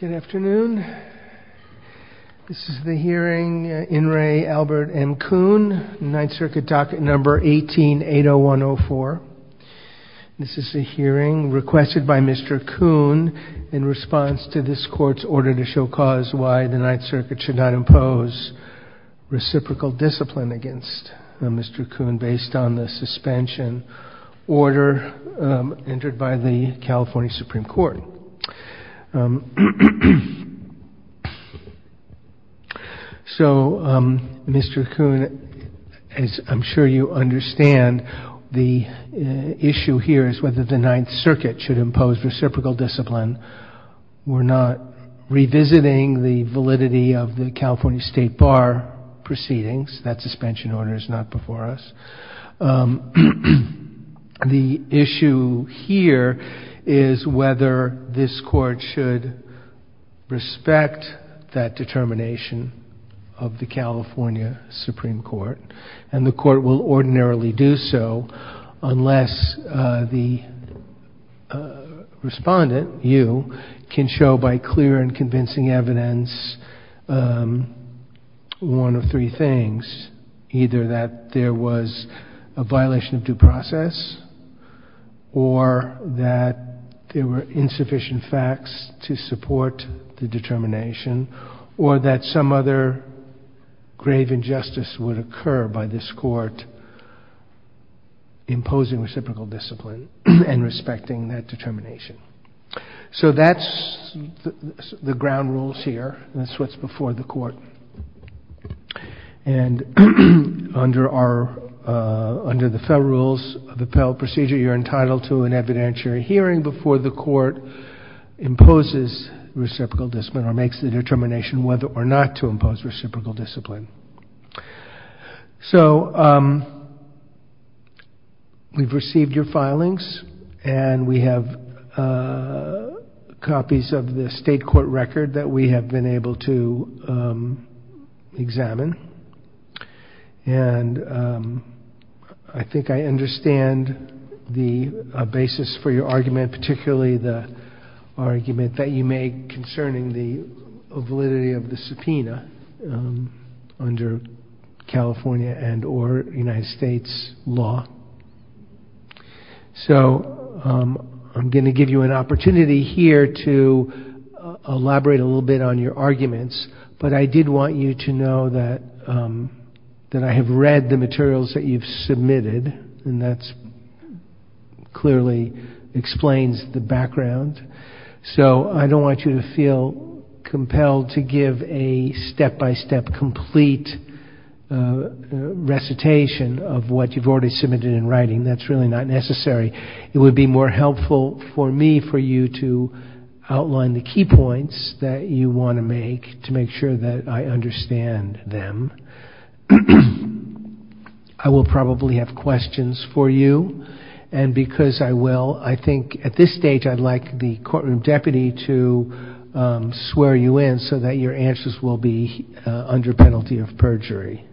Good afternoon. This is the hearing, In Re. Albert M. Kun, Ninth Circuit Docket Number 18-80104. This is the hearing requested by Mr. Kun in response to this court's order to show cause why the Ninth Circuit should not impose reciprocal discipline against Mr. Kun based on the suspension order entered by the California Supreme Court. So Mr. Kun, I'm sure you understand the issue here is whether the Ninth Circuit should impose reciprocal discipline. We're not revisiting the validity of the California State Bar proceedings. That The issue here is whether this court should respect that determination of the California Supreme Court, and the court will ordinarily do so unless the respondent, you, can show by clear and convincing evidence one of three things. Either that there was a violation of due process, or that there were insufficient facts to support the determination, or that some other grave injustice would occur by this court imposing reciprocal discipline and respecting that the ground rules here, and that's what's before the court. And under our, under the federal rules of the appellate procedure, you're entitled to an evidentiary hearing before the court imposes reciprocal discipline or makes the determination whether or not to impose reciprocal discipline. So we've received your filings, and we have copies of the state court record that we have been able to examine, and I think I understand the basis for your argument, particularly the argument that you make concerning the validity of the subpoena under California and or United States law. So I'm going to give you an opportunity here to elaborate a little bit on your arguments, but I did want you to know that I have read the materials that you've submitted, and that clearly explains the background. So I don't want you to feel compelled to give a step-by-step complete recitation of what you've already submitted in writing. That's really not necessary. It would be more helpful for me for you to outline the key points that you want to make to make sure that I understand them. I will probably have questions for you, and because I will, I think at this stage I'd like the courtroom deputy to swear you in so that your answers will be under penalty of perjury.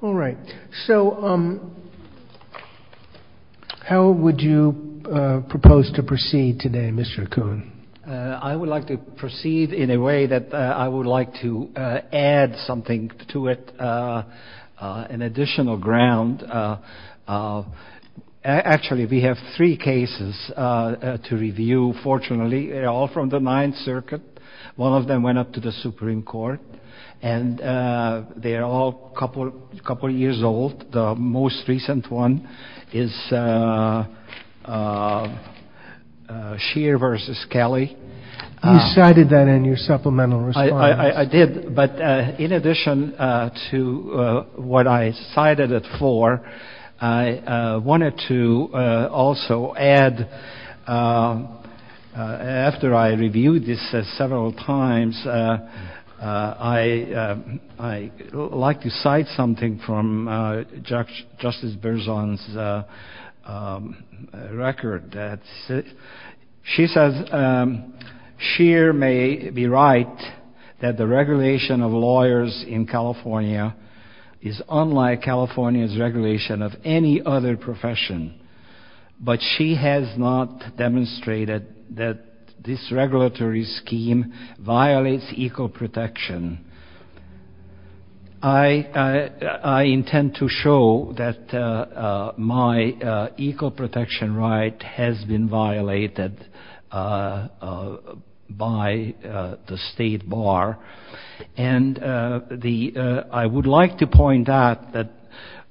All right. So how would you propose to proceed today, Mr. Kuhn? I would like to proceed in a way that I would like to add something to it, an additional ground. Actually, we have three cases to review. Fortunately, they're all from the Ninth Circuit. One of them went up to the Supreme Court, and they're all a couple years old. The most recent one is Scheer v. Kelly. You cited that in your supplemental response. I did, but in addition to what I cited it for, I wanted to also add, after I reviewed this several times, I'd like to cite something from Justice Berzon's record. She says, Scheer may be right that the regulation of lawyers in California is unlike California's regulation of any other profession, but she has not demonstrated that this regulatory scheme violates eco-protection. I intend to show that my eco-protection right has been violated by the state bar, and I would like to point out that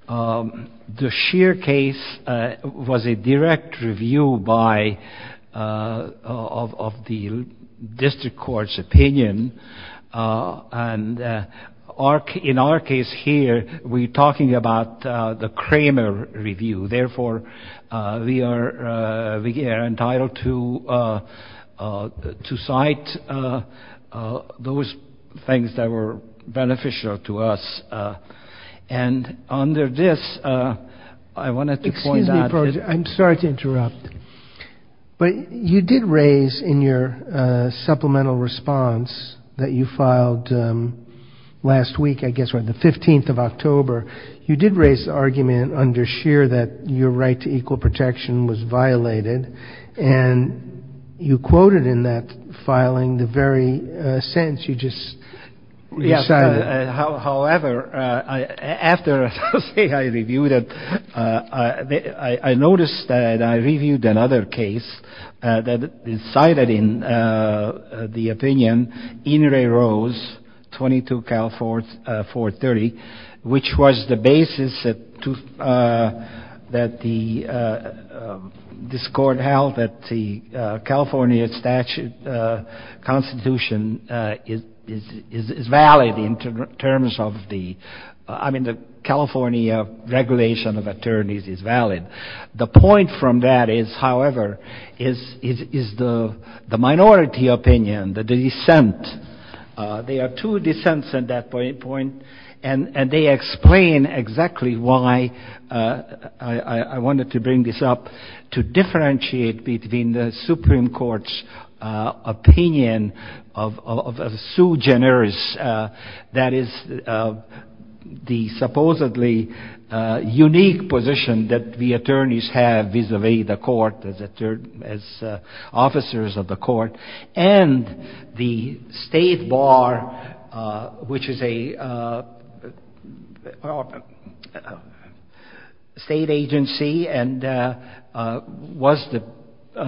the Scheer case was a direct review of the district court's opinion. In our case here, we're talking about the Kramer review. Therefore, we are entitled to cite those things that were beneficial to us. And under this, I wanted to point out… I'm sorry to interrupt, but you did raise in your supplemental response that you filed last week, I guess on the 15th of October, you did raise the argument under Scheer that your right to eco-protection was violated, and you quoted in that filing the very sentence you just cited. However, after I reviewed it, I noticed that I reviewed another case that is cited in the opinion, Inouye Rose, 22 California 430, which was the basis that this court held that the California statute constitution is valid in terms of the California regulation of attorneys is valid. The point from that is, however, is the minority opinion, the dissent. There are two dissents at that point, and they explain exactly why I wanted to bring this up. between the Supreme Court's opinion of Sue Generis, that is the supposedly unique position that the attorneys have vis-a-vis the court as officers of the court, and the state bar, which is a state agency and was the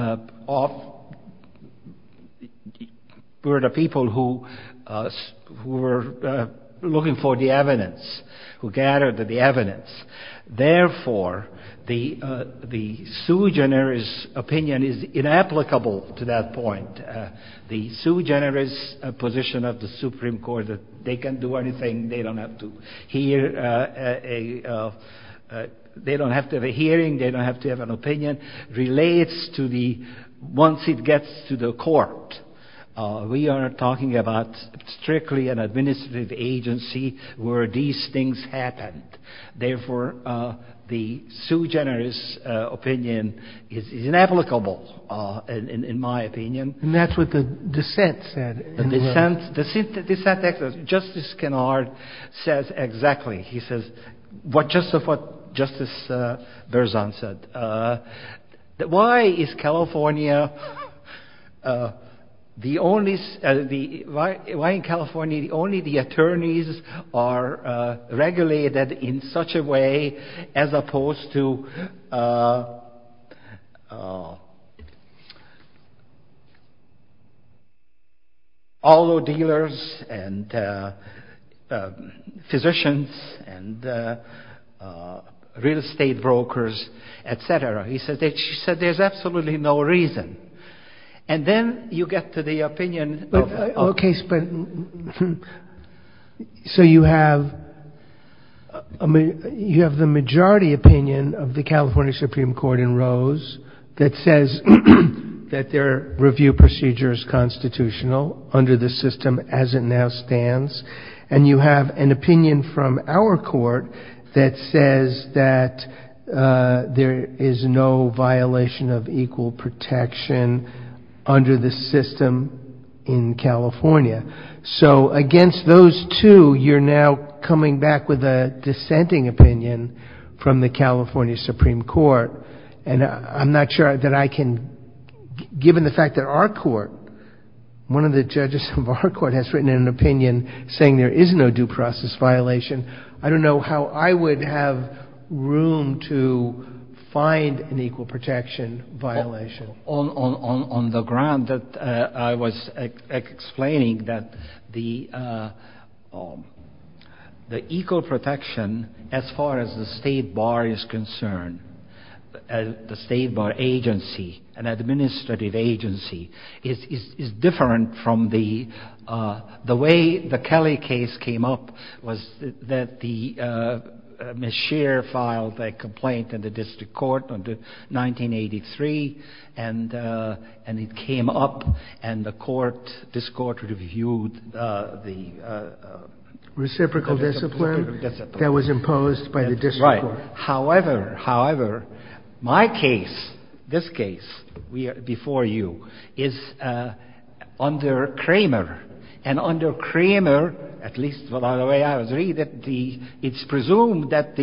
people who were looking for the evidence, who gathered the evidence. Therefore, the Sue Generis opinion is inapplicable to that point. The Sue Generis position of the Supreme Court, they can do anything, they don't have to have a hearing, they don't have to have an opinion, relates to the, once it gets to the court, we are talking about strictly an administrative agency where these things happened. Therefore, the Sue Generis opinion is inapplicable, in my opinion. And that's what the dissent said. The dissent, Justice Kennard, says exactly what Justice Berzon said. Why is California, why in California only the attorneys are regulated in such a way as opposed to all the dealers and physicians and real estate brokers, etc. He said there's absolutely no reason. And then you get to the opinion. Okay, so you have the majority opinion of the California Supreme Court in Rose that says that their review procedure is constitutional under the system as it now stands. And you have an opinion from our court that says that there is no violation of equal protection under the system in California. So against those two, you're now coming back with a dissenting opinion from the California Supreme Court. And I'm not sure that I can, given the fact that our court, one of the judges of our court has written an opinion saying there is no due process violation. I don't know how I would have room to find an equal protection violation. On the ground that I was explaining that the equal protection as far as the state bar is concerned, the state bar agency, an administrative agency, is different from the way the Kelly case came up. It was that Ms. Scheer filed a complaint in the district court in 1983, and it came up, and the court, this court reviewed the... Reciprocal discipline that was imposed by the district court. However, my case, this case before you, is under Cramer. And under Cramer, at least the way I agree, it's presumed that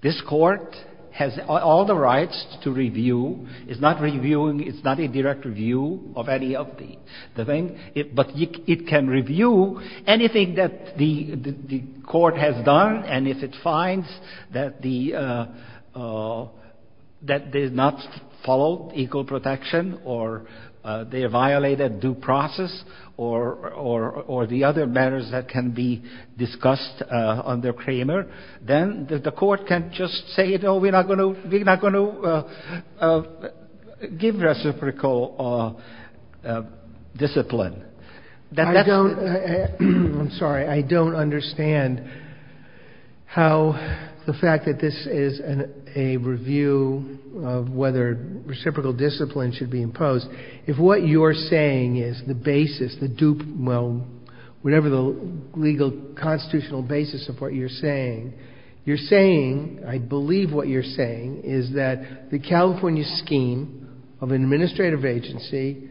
this court has all the rights to review. It's not reviewing, it's not a direct review of any of the things, but it can review anything that the court has done. And if it finds that the, that they did not follow equal protection, or they violated due process, or the other matters that can be discussed under Cramer, then the court can just say, you know, we're not going to give reciprocal discipline. I'm sorry, I don't understand how the fact that this is a review of whether reciprocal discipline should be imposed. If what you're saying is the basis, the dupe, well, whatever the legal constitutional basis of what you're saying, you're saying, I believe what you're saying is that the California scheme of an administrative agency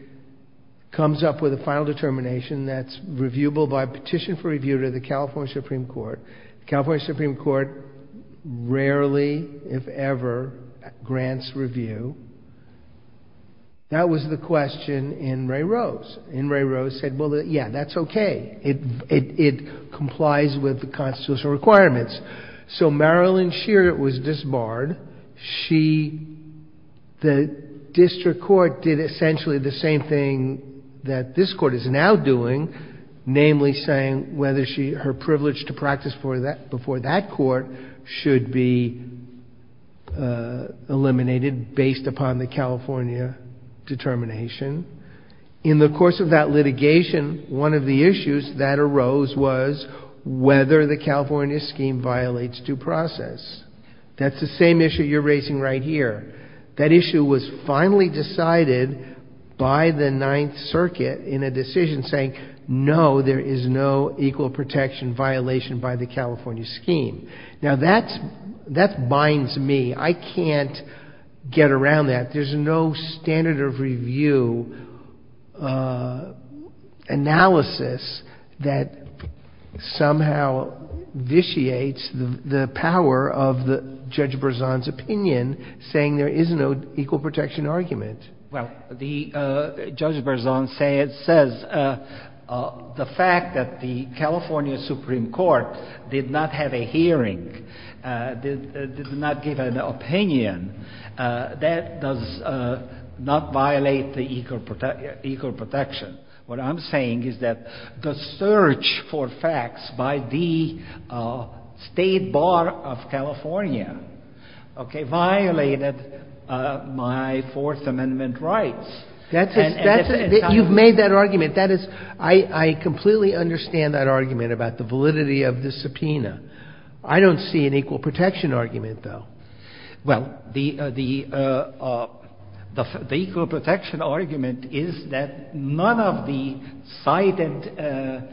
comes up with a final determination that's reviewable by petition for review to the California Supreme Court. The California Supreme Court rarely, if ever, grants review. That was the question in Ray Rose. And Ray Rose said, well, yeah, that's okay. It complies with the constitutional requirements. So Marilyn Shearer was disbarred. She, the district court did essentially the same thing that this court is now doing, namely saying whether her privilege to practice before that court should be eliminated based upon the California determination. In the course of that litigation, one of the issues that arose was whether the California scheme violates due process. That's the same issue you're raising right here. That issue was finally decided by the Ninth Circuit in a decision saying, no, there is no equal protection violation by the California scheme. Now, that binds me. I can't get around that. There's no standard of review analysis that somehow vitiates the power of Judge Berzon's opinion saying there is no equal protection argument. Well, Judge Berzon says the fact that the California Supreme Court did not have a hearing, did not give an opinion, that does not violate the equal protection. What I'm saying is that the search for facts by the State Bar of California violated my Fourth Amendment rights. You've made that argument. I completely understand that argument about the validity of the subpoena. I don't see an equal protection argument, though. Well, the equal protection argument is that none of the cited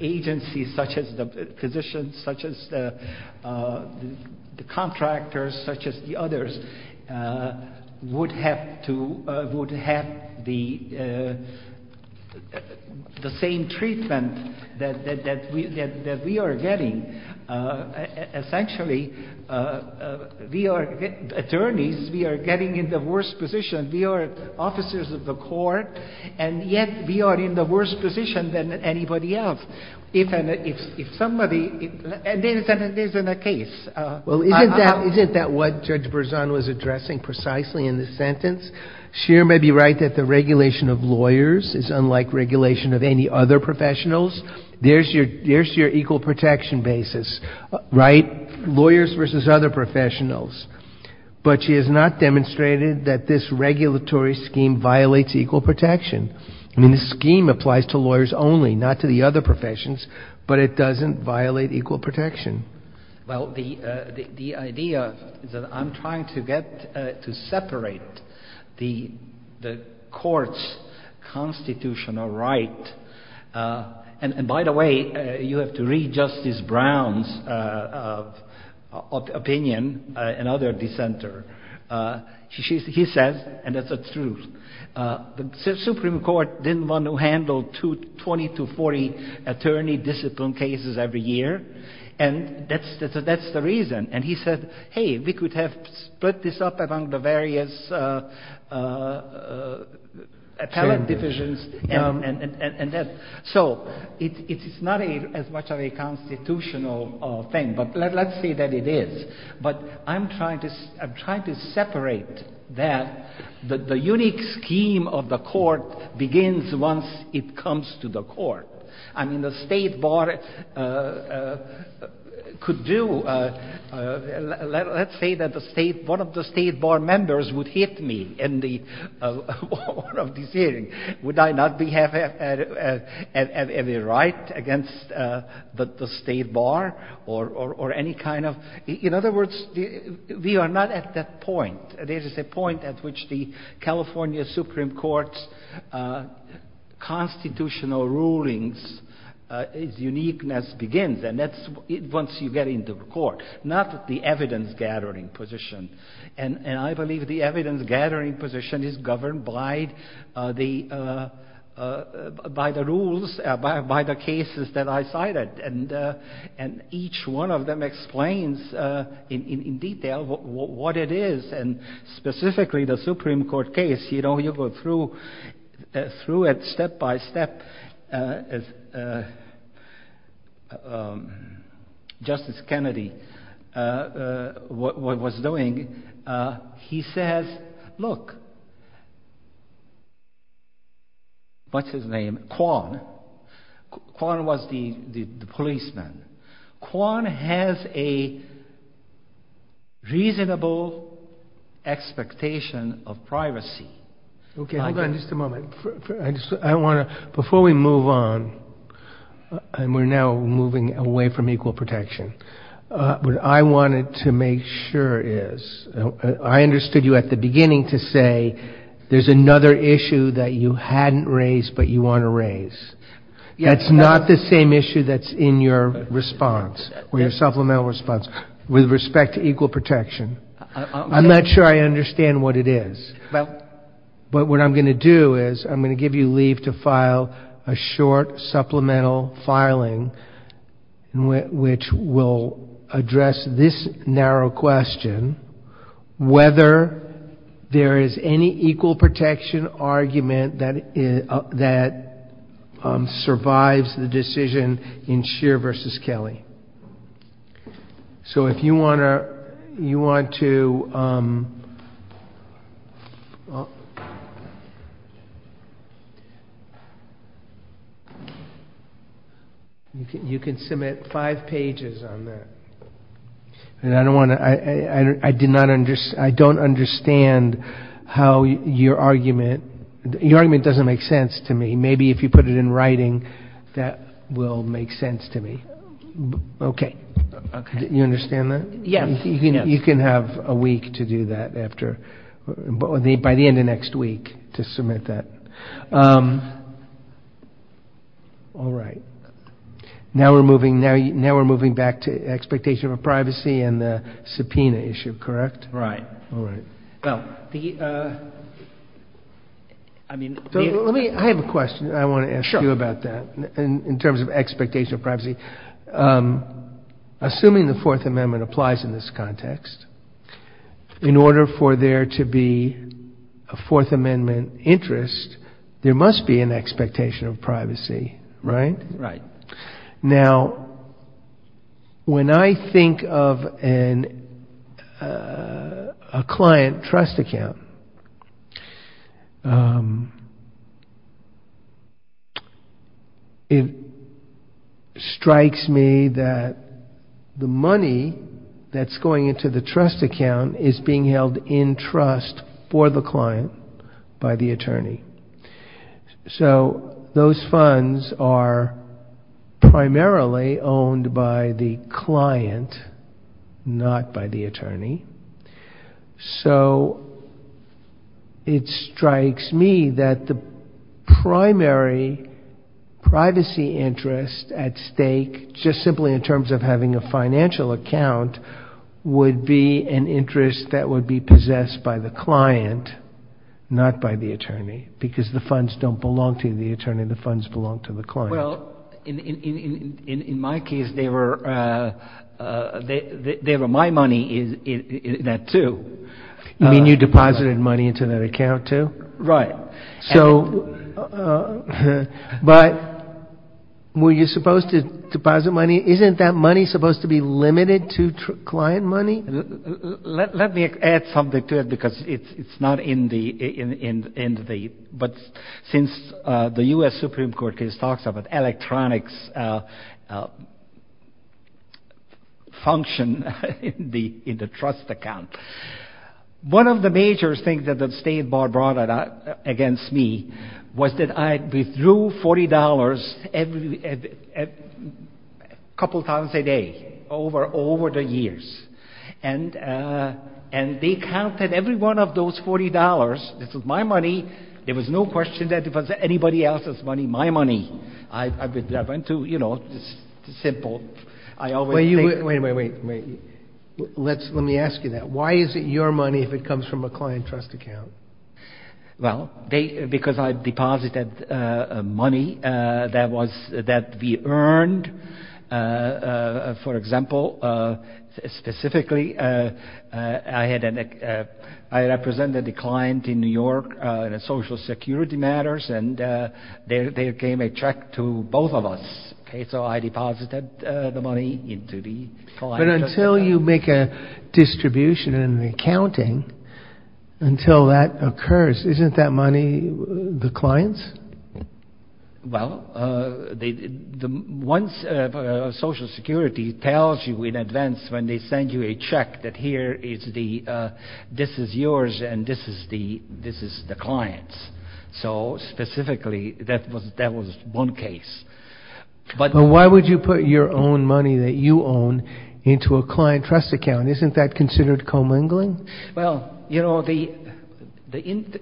agencies, such as the physicians, such as the contractors, such as the others, would have the same treatment that we are getting. Essentially, we are attorneys. We are getting in the worst position. We are officers of the court, and yet we are in the worst position than anybody else. And there isn't a case. Well, isn't that what Judge Berzon was addressing precisely in the sentence? She may be right that the regulation of lawyers is unlike regulation of any other professionals. There's your equal protection basis, right? Lawyers versus other professionals. But she has not demonstrated that this regulatory scheme violates equal protection. I mean, the scheme applies to lawyers only, not to the other professions, but it doesn't violate equal protection. Well, the idea is that I'm trying to separate the court's constitutional right. And, by the way, you have to read Justice Brown's opinion, another dissenter. He says, and that's the truth, the Supreme Court didn't want to handle 20 to 40 attorney discipline cases every year. And that's the reason. And he said, hey, we could have split this up among the various appellate divisions. So it's not as much of a constitutional thing. But let's say that it is. But I'm trying to separate that. The unique scheme of the court begins once it comes to the court. I mean, the State Bar could do — let's say that one of the State Bar members would hit me in one of these hearings. Would I not have a right against the State Bar? Or any kind of — in other words, we are not at that point. There is a point at which the California Supreme Court's constitutional rulings' uniqueness begins. And that's once you get into the court, not the evidence-gathering position. And I believe the evidence-gathering position is governed by the rules, by the cases that I cited. And each one of them explains in detail what it is. And specifically, the Supreme Court case, you know, you go through it step-by-step as Justice Kennedy was doing. He says, look, what's his name? Kwon. Kwon was the policeman. Kwon has a reasonable expectation of privacy. Okay, hold on just a moment. I want to — before we move on, and we're now moving away from equal protection, what I wanted to make sure is — I understood you at the beginning to say there's another issue that you hadn't raised but you want to raise. That's not the same issue that's in your response, your supplemental response, with respect to equal protection. I'm not sure I understand what it is. But what I'm going to do is I'm going to give you leave to file a short supplemental filing, which will address this narrow question, whether there is any equal protection argument that survives the decision in Scheer v. Kelly. So if you want to — you can submit five pages on that. I don't want to — I don't understand how your argument — your argument doesn't make sense to me. Maybe if you put it in writing, that will make sense to me. Okay. You understand that? Yes. You can have a week to do that after — by the end of next week to submit that. All right. Now we're moving back to expectation of privacy and the subpoena issue, correct? Right. All right. Well, the — I mean — Let me — I have a question I want to ask you about that in terms of expectation of privacy. Assuming the Fourth Amendment applies in this context, in order for there to be a Fourth Amendment interest, there must be an expectation of privacy, right? Right. Now, when I think of a client trust account, it strikes me that the money that's going into the trust account is being held in trust for the client by the attorney. So those funds are primarily owned by the client, not by the attorney. So it strikes me that the primary privacy interest at stake, just simply in terms of having a financial account, would be an interest that would be possessed by the client, not by the attorney, because the funds don't belong to the attorney. The funds belong to the client. Well, in my case, they were my money in that, too. You mean you deposited money into that account, too? Right. So — But were you supposed to deposit money? Isn't that money supposed to be limited to client money? Let me add something to it, because it's not in the — but since the U.S. Supreme Court case talks about electronics function in the trust account, one of the major things that the State Bar brought against me was that I withdrew $40 a couple of times a day over the years. And they counted every one of those $40. This was my money. There was no question that if it was anybody else's money, my money. I went to, you know, it's simple. I always think — Wait, wait, wait, wait. Let me ask you that. Why is it your money if it comes from a client trust account? Well, because I deposited money that we earned. For example, specifically, I represented a client in New York in social security matters, and they gave a check to both of us. So I deposited the money into the client trust account. But until you make a distribution and an accounting, until that occurs, isn't that money the client's? Well, once social security tells you in advance when they send you a check that here is the — this is yours, and this is the client's. So specifically, that was one case. But why would you put your own money that you own into a client trust account? Isn't that considered commingling? Well, you know, the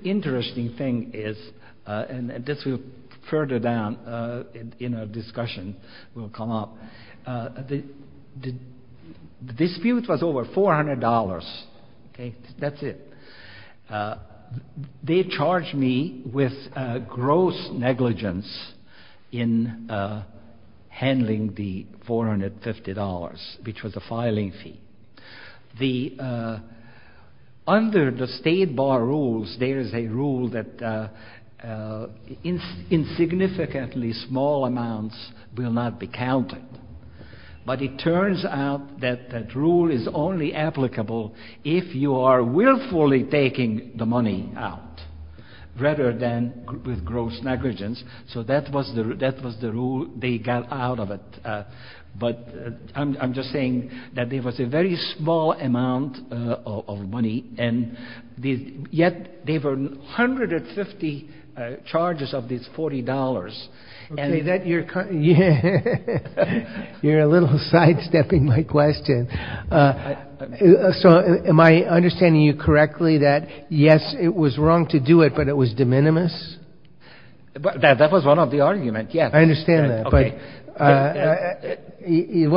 interesting thing is, and this will further down in our discussion will come up, the dispute was over $400. Okay? That's it. They charged me with gross negligence in handling the $450, which was the filing fee. Under the state bar rules, there is a rule that in significantly small amounts will not be counted. But it turns out that that rule is only applicable if you are willfully taking the money out, rather than with gross negligence. So that was the rule they got out of it. But I'm just saying that it was a very small amount of money, and yet there were 150 charges of this $40. You're a little sidestepping my question. So am I understanding you correctly that, yes, it was wrong to do it, but it was de minimis? That was one of the arguments, yes. I understand that. One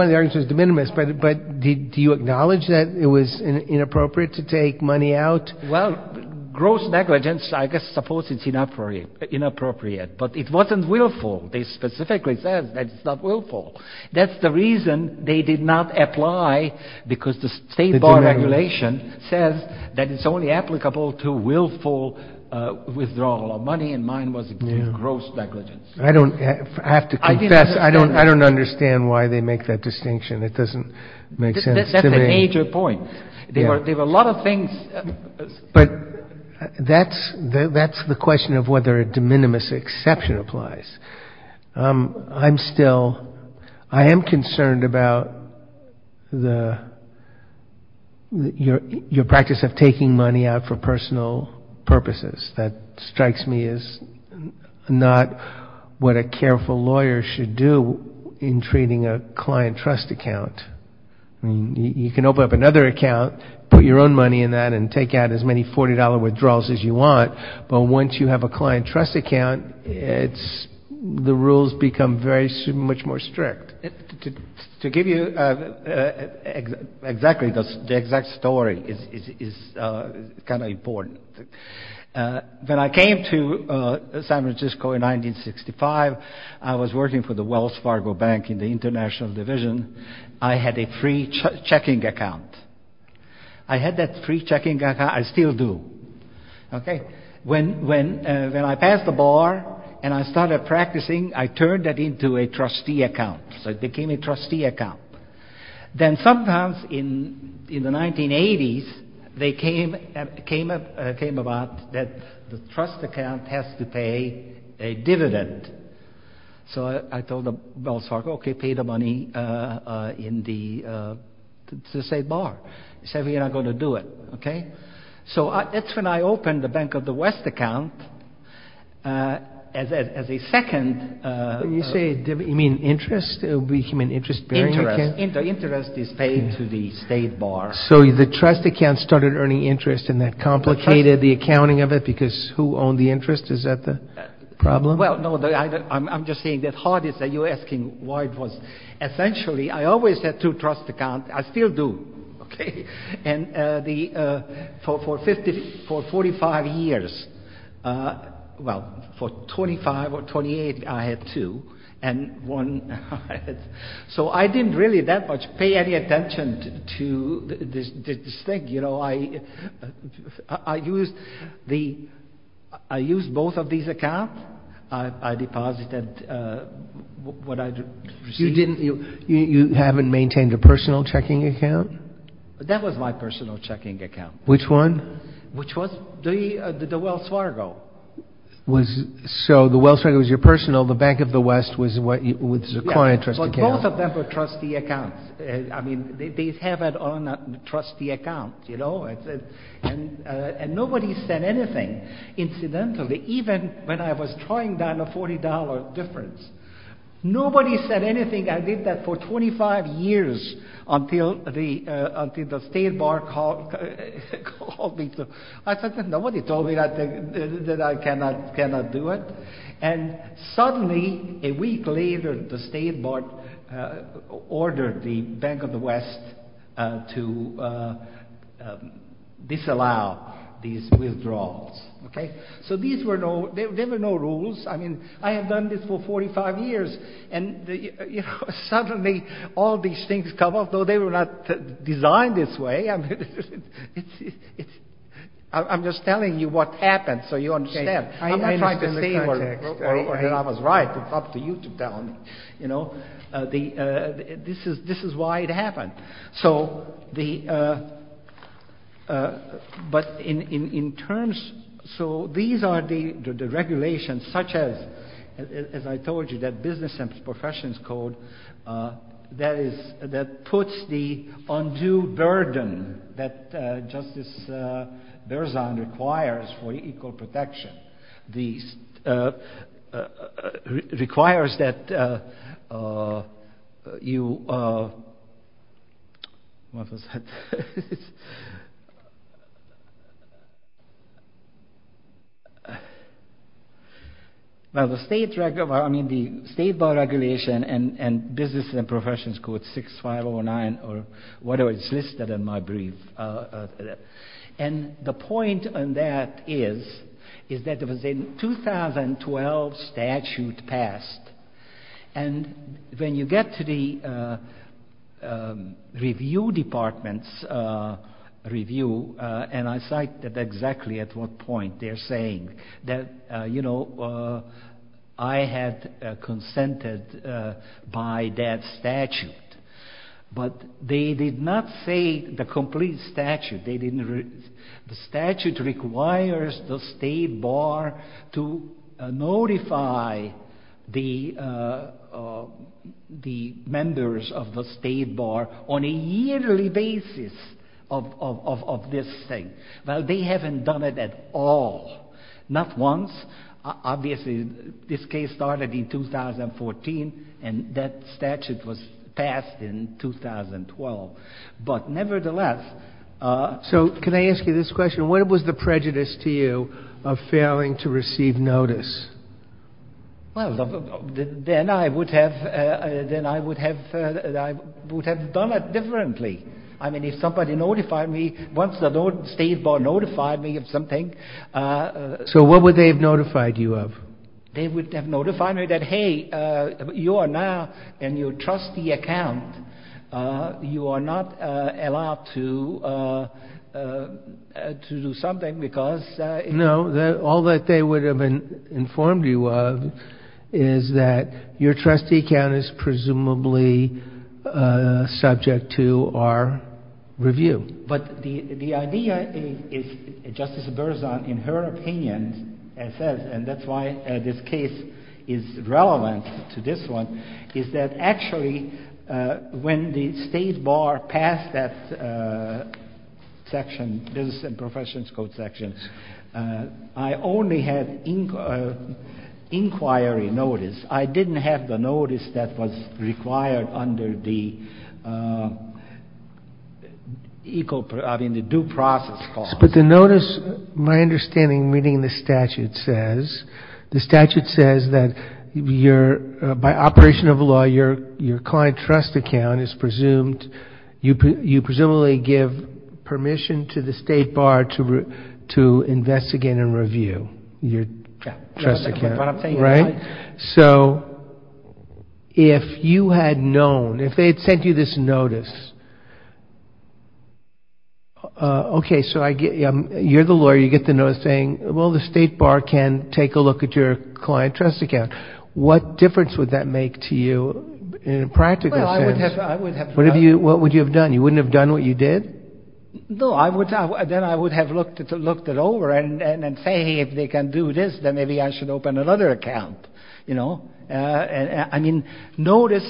of the arguments was de minimis. But do you acknowledge that it was inappropriate to take money out? Well, gross negligence, I suppose it's inappropriate. But it wasn't willful. They specifically said that it's not willful. That's the reason they did not apply, because the state bar regulation says that it's only applicable to willful withdrawal of money, and mine was gross negligence. I don't have to confess. I don't understand why they make that distinction. It doesn't make sense to me. That's a major point. There were a lot of things. But that's the question of whether a de minimis exception applies. I'm still, I am concerned about your practice of taking money out for personal purposes. That strikes me as not what a careful lawyer should do in treating a client trust account. You can open up another account, put your own money in that, and take out as many $40 withdrawals as you want, but once you have a client trust account, the rules become much more strict. To give you exactly the exact story is kind of important. When I came to San Francisco in 1965, I was working for the Wells Fargo Bank in the International Division. I had a free checking account. I had that free checking account. I still do. When I passed the bar and I started practicing, I turned that into a trustee account. It became a trustee account. Then sometimes in the 1980s, they came about that the trust account has to pay a dividend. So I told the Wells Fargo, okay, pay the money in the state bar. He said, we're not going to do it. So that's when I opened the Bank of the West account as a second— You say, you mean interest? Interest is paid to the state bar. So the trust account started earning interest and that complicated the accounting of it because who owned the interest? Is that the problem? Well, no. I'm just saying the hardest that you're asking why it wasn't. Essentially, I always had two trust accounts. I still do. For 45 years, well, for 25 or 28, I had two. So I didn't really that much pay any attention to this thing. You know, I used both of these accounts. I deposited what I received. You haven't maintained a personal checking account? That was my personal checking account. Which one? Which was the Wells Fargo. So the Wells Fargo was your personal. Well, the Bank of the West was your current trust account. Both of them were trustee accounts. I mean, they have it on trustee accounts, you know. And nobody said anything. Incidentally, even when I was trying down a $40 difference, nobody said anything. I did that for 25 years until the state bar called me. I said, nobody told me that I cannot do it. And suddenly, a week later, the state bar ordered the Bank of the West to disallow these withdrawals. Okay? So there were no rules. I mean, I had done this for 45 years, and suddenly all these things come up, though they were not designed this way. I'm just telling you what happened so you understand. I'm not trying to say that I was right. I'm talking to you, Tom. This is why it happened. So these are the regulations, such as, as I told you, that business and professions code, that puts the undue burden that Justice Berzon requires for equal protection. Requires that you... Now, the state bar regulation and business and professions code 6509, or whatever it's listed in my brief. And the point on that is, is that the 2012 statute passed. And when you get to the review department's review, and I cite that exactly at what point they're saying that, you know, I had consented by that statute. But they did not say the complete statute. The statute requires the state bar to notify the members of the state bar on a yearly basis of this thing. Now, they haven't done it at all. Not once. Obviously, this case started in 2014, and that statute was passed in 2012. But nevertheless... So can I ask you this question? What was the prejudice to you of failing to receive notice? Well, then I would have done it differently. I mean, if somebody notified me, once the state bar notified me of something... So what would they have notified you of? They would have notified me that, hey, you are now in your trustee account. You are not allowed to do something because... No, all that they would have informed you of is that your trustee account is presumably subject to our review. But the idea is, Justice Berzon, in her opinion, and that's why this case is relevant to this one, is that actually when the state bar passed that section, business and professions code section, I only had inquiry notice. I didn't have the notice that was required under the due process clause. But the notice, my understanding, reading the statute says, the statute says that by operation of the law, your client trust account is presumed, you presumably give permission to the state bar to investigate and review your trust account. So if you had known, if they had sent you this notice, okay, so you're the lawyer, you get the notice saying, well, the state bar can take a look at your client trust account. What difference would that make to you in a practical sense? What would you have done? You wouldn't have done what you did? No, then I would have looked it over and say, okay, if they can do this, then maybe I should open another account. I mean, notice,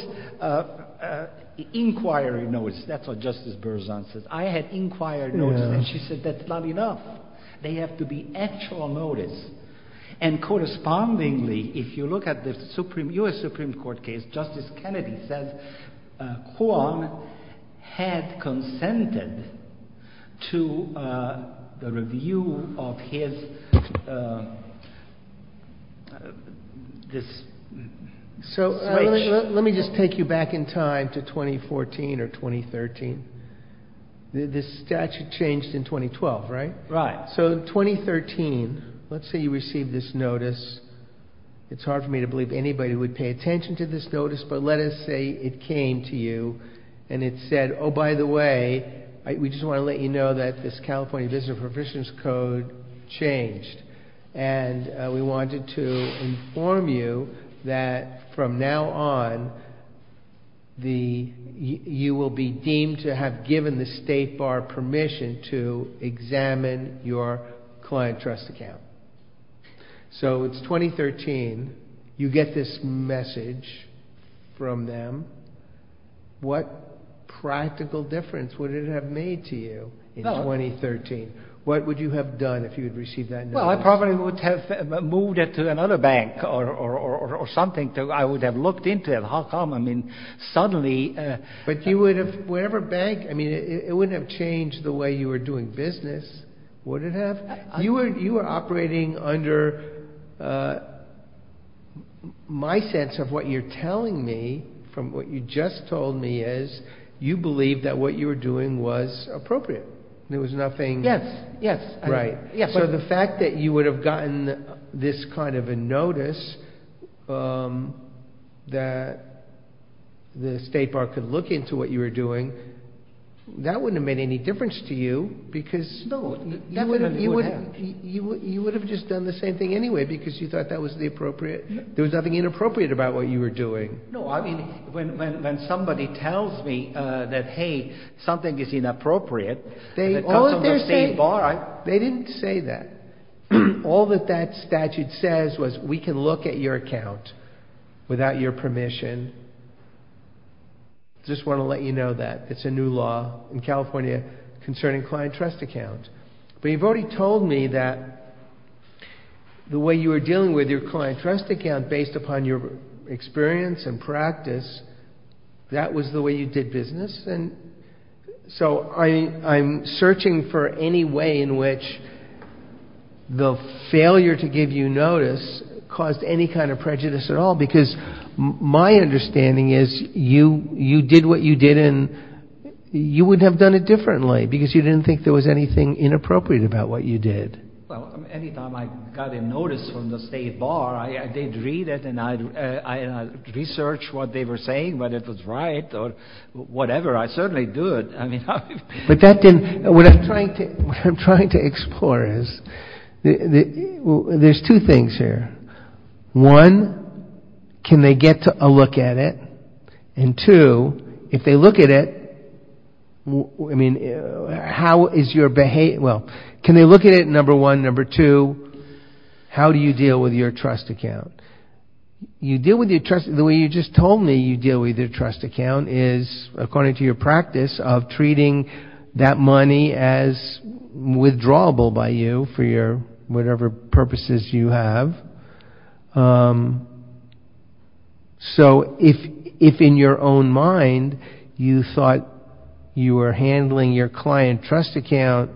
inquiry notice, that's what Justice Berzon said. I had inquiry notice, and she said that's not enough. They have to be actual notice. And correspondingly, if you look at the U.S. Supreme Court case, Justice Kennedy said Juan had consented to the review of his, this. So let me just take you back in time to 2014 or 2013. The statute changed in 2012, right? Right. So 2013, let's say you received this notice. It's hard for me to believe anybody would pay attention to this notice, but let us say it came to you and it said, oh, by the way, we just want to let you know that this California business proficiency code changed. And we wanted to inform you that from now on, you will be deemed to have given the state bar permission to examine your client trust account. So it's 2013. You get this message from them. What practical difference would it have made to you in 2013? What would you have done if you had received that notice? Well, I probably would have moved it to another bank or something. I would have looked into it. How come, I mean, suddenly. But you would have, whatever bank, I mean, it wouldn't have changed the way you were doing business, would it have? You were operating under my sense of what you're telling me, from what you just told me is you believe that what you were doing was appropriate. There was nothing. Yes, yes. Right. So the fact that you would have gotten this kind of a notice that the state bar could look into what you were doing, that wouldn't have made any difference to you because. No. You would have just done the same thing anyway because you thought that was the appropriate. There was nothing inappropriate about what you were doing. No, I mean, when somebody tells me that, hey, something is inappropriate. They didn't say that. All that that statute says was we can look at your account without your permission. Just want to let you know that. It's a new law in California concerning client trust accounts. But you've already told me that the way you were dealing with your client trust account based upon your experience and practice, that was the way you did business. So I'm searching for any way in which the failure to give you notice caused any kind of prejudice at all because my understanding is you did what you did and you would have done it differently because you didn't think there was anything inappropriate about what you did. Well, any time I got a notice from the state bar, I did read it and I researched what they were saying, whether it was right or whatever. I certainly did. What I'm trying to explore is there's two things here. One, can they get a look at it? And two, if they look at it, how is your behavior? Well, can they look at it, number one. Number two, how do you deal with your trust account? You deal with your trust, the way you just told me you deal with your trust account is according to your practice of treating that money as withdrawable by you for whatever purposes you have. So if in your own mind you thought you were handling your client trust account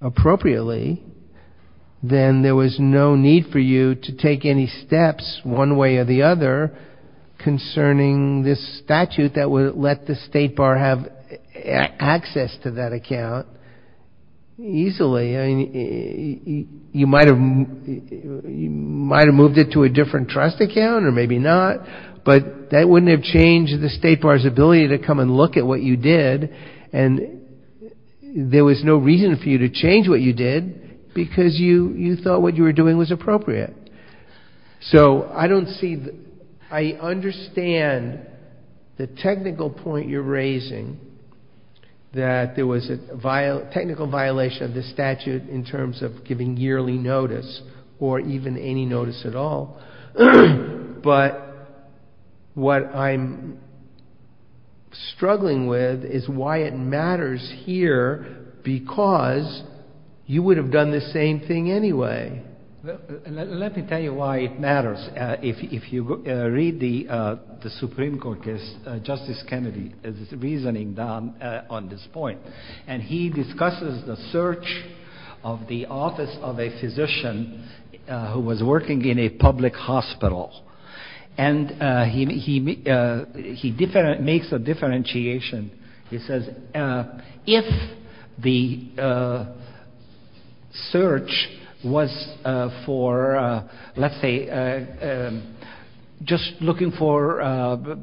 appropriately, then there was no need for you to take any steps one way or the other concerning this statute that would let the state bar have access to that account easily. You might have moved it to a different trust account or maybe not, but that wouldn't have changed the state bar's ability to come and look at what you did and there was no reason for you to change what you did because you thought what you were doing was appropriate. So I understand the technical point you're raising, that there was a technical violation of the statute in terms of giving yearly notice or even any notice at all, but what I'm struggling with is why it matters here because you would have done the same thing anyway. Let me tell you why it matters. If you read the Supreme Court case, Justice Kennedy is reasoning on this point and he discusses the search of the office of a physician who was working in a public hospital and he makes a differentiation. He says if the search was for, let's say, just looking for office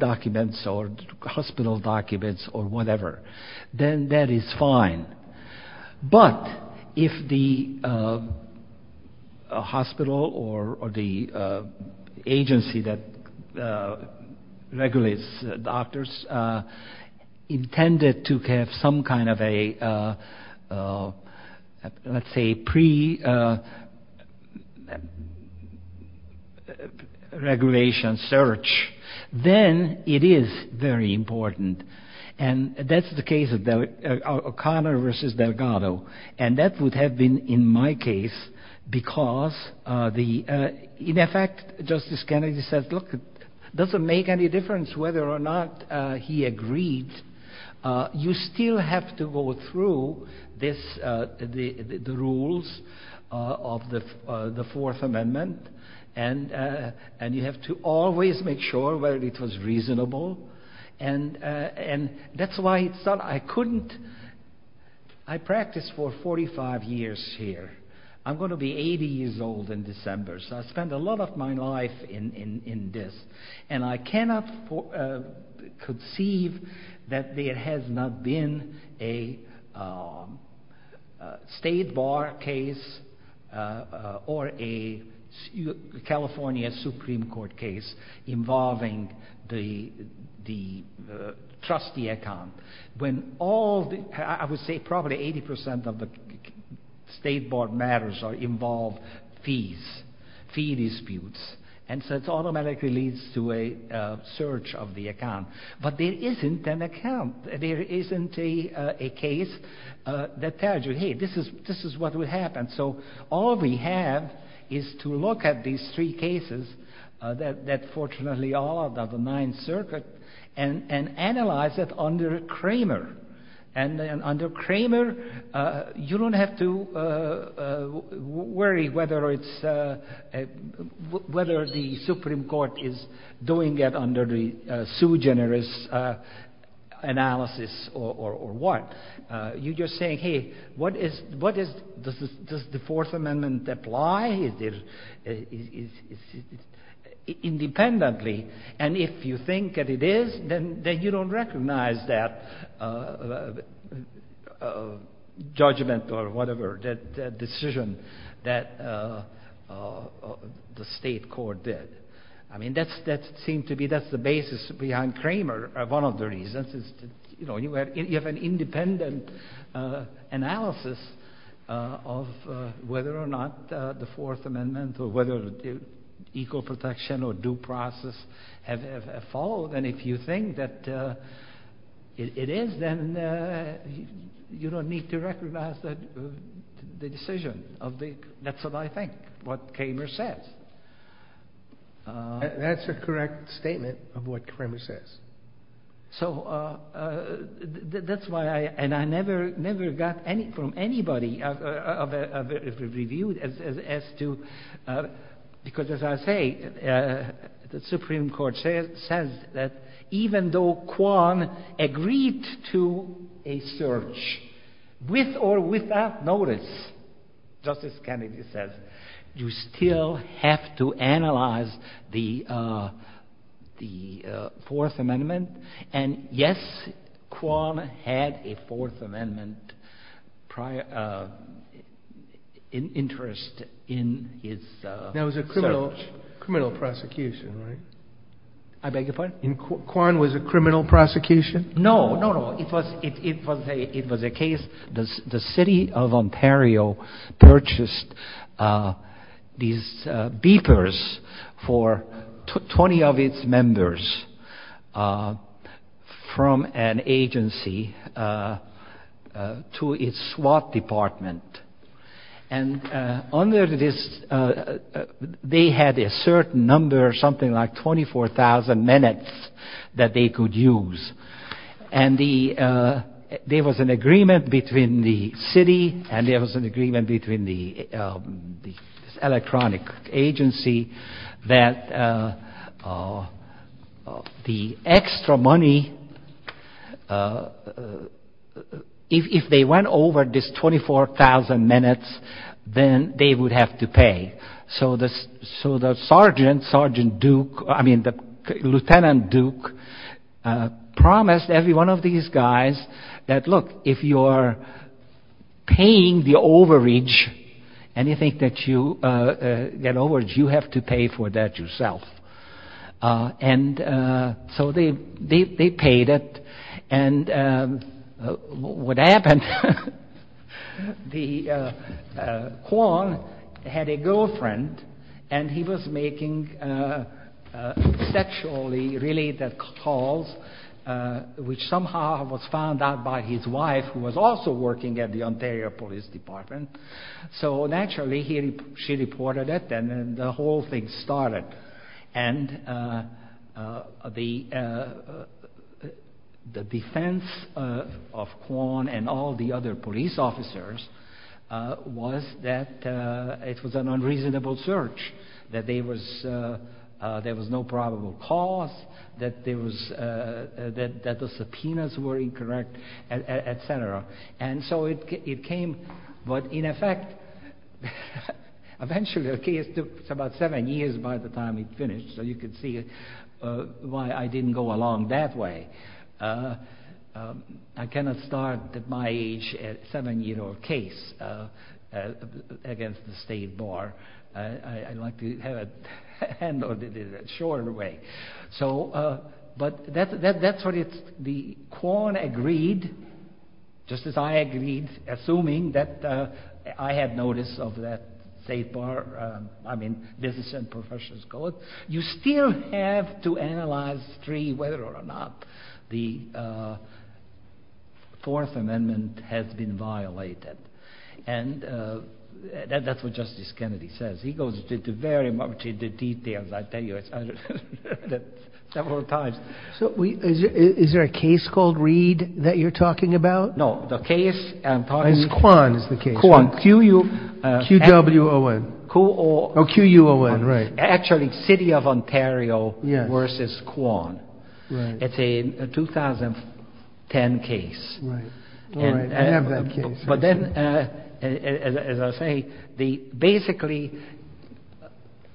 documents or hospital documents or whatever, then that is fine, but if the hospital or the agency that regulates doctors intended to have some kind of a, let's say, pre-regulation search, then it is very important and that's the case of O'Connor versus Delgado and that would have been in my case because, in effect, Justice Kennedy said, look, it doesn't make any difference whether or not he agreed. You still have to go through the rules of the Fourth Amendment and you have to always make sure whether it was reasonable and that's why I couldn't, I practiced for 45 years here. I'm going to be 80 years old in December, so I spent a lot of my life in this and I cannot conceive that there has not been a state bar case or a California Supreme Court case involving the trustee account. When all, I would say probably 80% of the state bar matters involve fees, fee disputes, and so it automatically leads to a search of the account, but there isn't an account, there isn't a case that tells you, hey, this is what would happen, so all we have is to look at these three cases that fortunately are of the Ninth Circuit and analyze it under Cramer and then under Cramer, you don't have to worry whether it's, whether the Supreme Court is doing it under the sui generis analysis or what. You're just saying, hey, what is, does the Fourth Amendment apply independently and if you think that it is, then you don't recognize that judgment or whatever, that decision that the state court did. I mean, that seems to be, that's the basis behind Cramer, one of the reasons. You have an independent analysis of whether or not the Fourth Amendment or whether equal protection or due process have followed, and if you think that it is, then you don't need to recognize the decision. That's what I think, what Cramer says. That's a correct statement of what Cramer says. So, that's why I, and I never got from anybody a review as to, because as I say, the Supreme Court says that even though Kwan agreed to a search with or without notice, Justice Kennedy says, you still have to analyze the Fourth Amendment, and yes, Kwan had a Fourth Amendment interest in his search. That was a criminal prosecution, right? I beg your pardon? Kwan was a criminal prosecution? No, no, no. It was a case, the city of Ontario purchased these beepers for 20 of its members from an agency to its SWAT department, and under this, they had a certain number, something like 24,000 minutes that they could use, and there was an agreement between the city and there was an agreement between the electronic agency that the extra money, if they went over this 24,000 minutes, then they would have to pay. So, the sergeant, Sergeant Duke, I mean, the Lieutenant Duke promised every one of these guys that look, if you're paying the overage, anything that you, that overage, you have to pay for that yourself. And so, they paid it, and what happened, Kwan had a girlfriend, and he was making sexually related calls, which somehow was found out by his wife, who was also working at the Ontario Police Department. So, naturally, she reported it, and the whole thing started. And the defense of Kwan and all the other police officers was that it was an unreasonable search, that there was no probable cause, that the subpoenas were incorrect, et cetera. And so, it came, but in effect, eventually the case took about seven years by the time it finished, so you can see why I didn't go along that way. I cannot start at my age a seven-year-old case against the state bar. I'd like to handle it in a shorter way. But that's what it's, Kwan agreed, just as I agreed, assuming that I had notice of that state bar, I mean, business and professional scores. You still have to analyze whether or not the Fourth Amendment has been violated, and that's what Justice Kennedy says. He goes into very much into detail, I tell you, several times. So, is there a case called Reed that you're talking about? No, the case, I'm talking about- It's Kwan is the case. Kwan. Q-U-O-N. Q-U-O-N, right. Actually, City of Ontario versus Kwan. It's a 2010 case. Right, I have that case. But then, as I say, basically,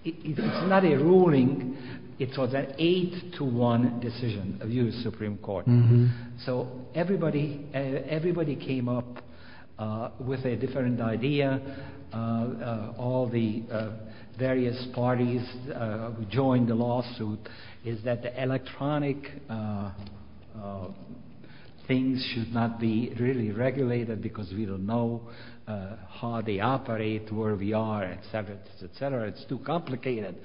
it's not a ruling. It's an eight-to-one decision of the U.S. Supreme Court. So, everybody came up with a different idea. is that the electronic things should not be really regulated because we don't know how they operate, where we are, et cetera, et cetera. It's too complicated.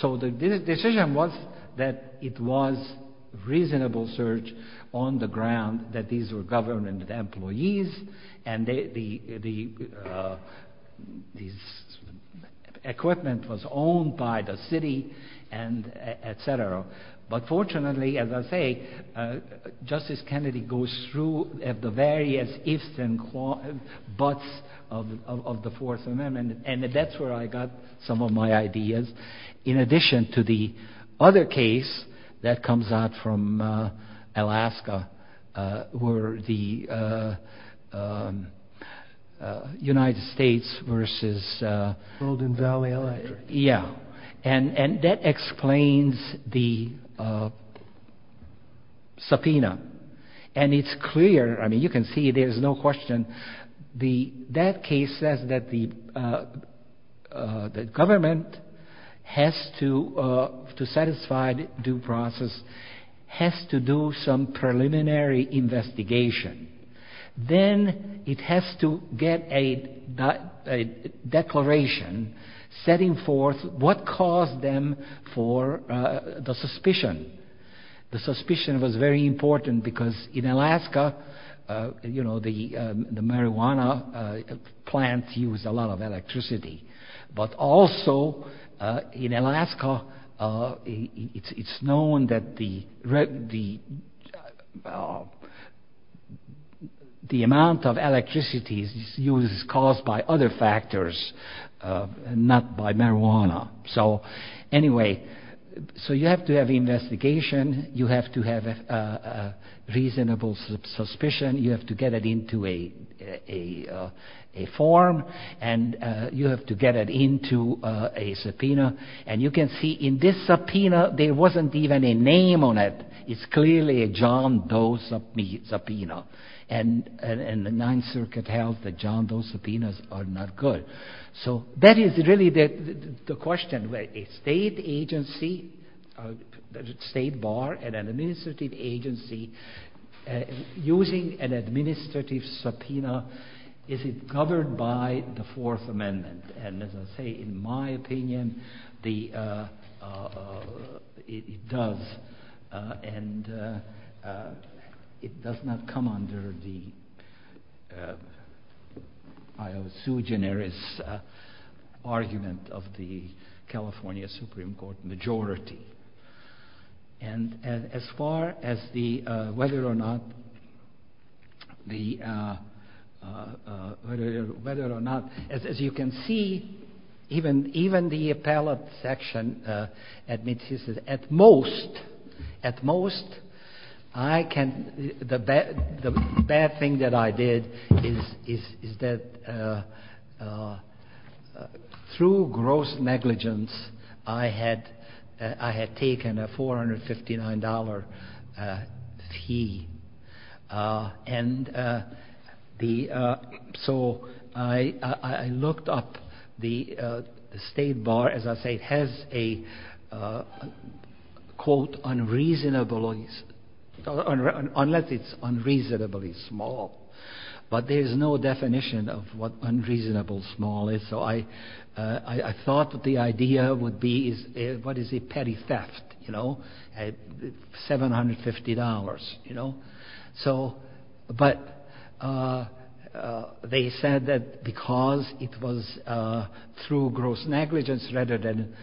So, the decision was that it was reasonable search on the ground that these were government employees, and the equipment was owned by the city, et cetera. But fortunately, as I say, Justice Kennedy goes through the various ifs and buts of the Fourth Amendment, and that's where I got some of my ideas. In addition to the other case that comes out from Alaska, where the United States versus... Golden Valley. Yeah, and that explains the subpoena. And it's clear. I mean, you can see there's no question. That case says that the government has to satisfy due process, has to do some preliminary investigation. Then, it has to get a declaration setting forth what caused them for the suspicion. The suspicion was very important because in Alaska, the marijuana plant used a lot of electricity. But also, in Alaska, it's known that the amount of electricity used is caused by other factors, not by marijuana. So, anyway, you have to have investigation. You have to have a reasonable suspicion. You have to get it into a form, and you have to get it into a subpoena. And you can see in this subpoena, there wasn't even a name on it. It's clearly a John Doe subpoena. And the non-circuit held that John Doe subpoenas are not good. So, that is really the question. A state agency, a state bar, an administrative agency, using an administrative subpoena, is it governed by the Fourth Amendment? And, as I say, in my opinion, it does. And it does not come under the, I would say, eugenics argument of the California Supreme Court majority. And as far as the, whether or not, as you can see, even the appellate section admits this is, at most, at most, I can, the bad thing that I did is that through gross negligence, I had taken a $459 fee. And the, so I looked up the state bar, as I say, has a, quote, unreasonably, unless it's unreasonably small, but there's no definition of what unreasonable small is. So, I thought that the idea would be, what is it, petty theft, you know, at $750, you know. So, but they said that because it was through gross negligence rather than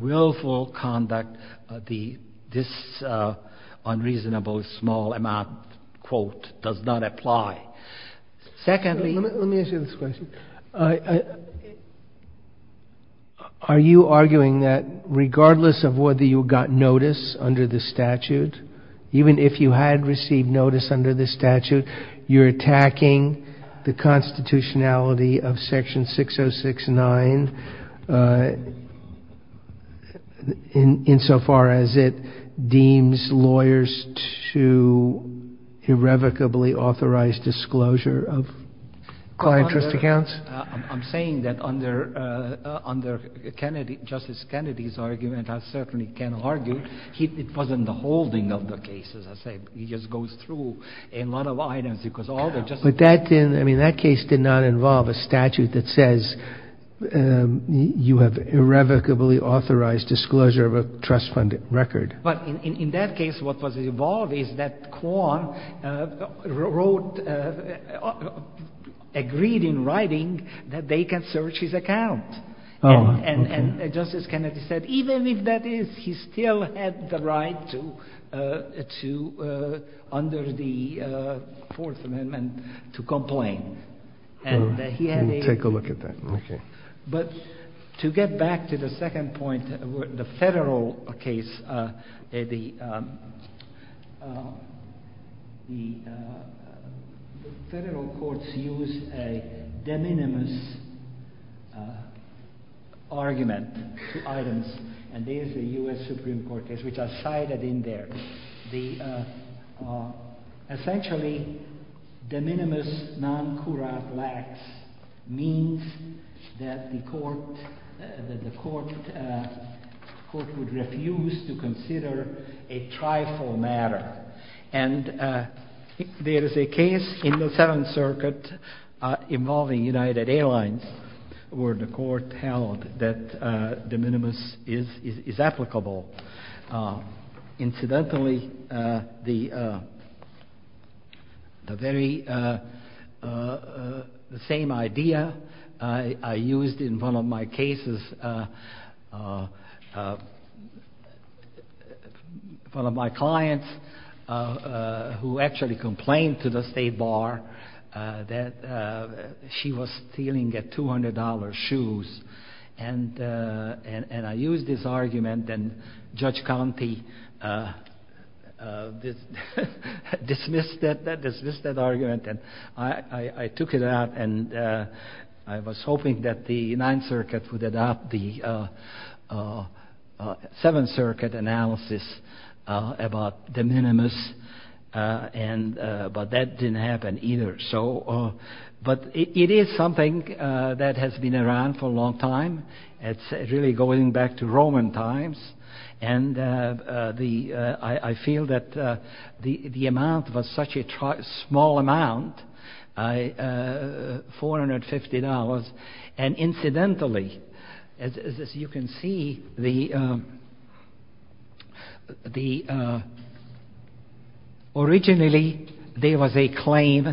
willful conduct, this unreasonable small amount, quote, does not apply. Secondly... Let me ask you this question. Are you arguing that regardless of whether you got notice under the statute, even if you had received notice under the statute, you're attacking the constitutionality of Section 6069 in so far as it deems lawyers to irrevocably authorize disclosure of client trust accounts? I'm saying that under Kennedy, Justice Kennedy's argument, I certainly can argue, it wasn't the holding of the case, as I said. He just goes through a lot of items because all the... But that didn't, I mean, that case did not involve a statute that says you have irrevocably authorized disclosure of a trust-funded record. But in that case, what was involved is that Kwan wrote, agreed in writing that they can search his account. And Justice Kennedy said, even if that is, he still had the right to, under the Fourth Amendment, to complain. And he had a... Take a look at that. But to get back to the second point, the federal case, the federal courts use a de minimis argument, and there's a U.S. Supreme Court case, which I cited in there. And essentially, de minimis non cura lax means that the court would refuse to consider a trifle matter. And there is a case in the Seventh Circuit involving United Airlines where the court held that de minimis is applicable. Incidentally, the very same idea I used in one of my cases, one of my clients who actually complained to the state bar that she was stealing a $200 shoes. And I used this argument, and Judge County dismissed that argument. And I took it out, and I was hoping that the Ninth Circuit would adopt the Seventh Circuit analysis about de minimis, but that didn't happen either. But it is something that has been around for a long time. It's really going back to Roman times, and I feel that the amount was such a small amount, $450. And incidentally, as you can see, originally, there was a claim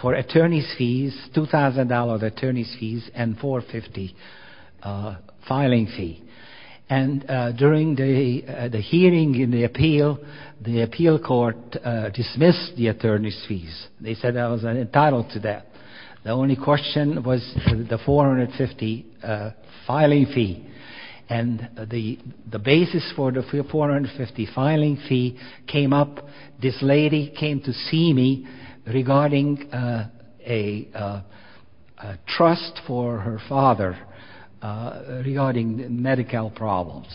for attorney's fees, $2,000 attorney's fees, and $450 filing fee. And during the hearing in the appeal, the appeal court dismissed the attorney's fees. They said I was entitled to that. The only question was the $450 filing fee. And the basis for the $450 filing fee came up, this lady came to see me regarding a trust for her father regarding Medi-Cal problems.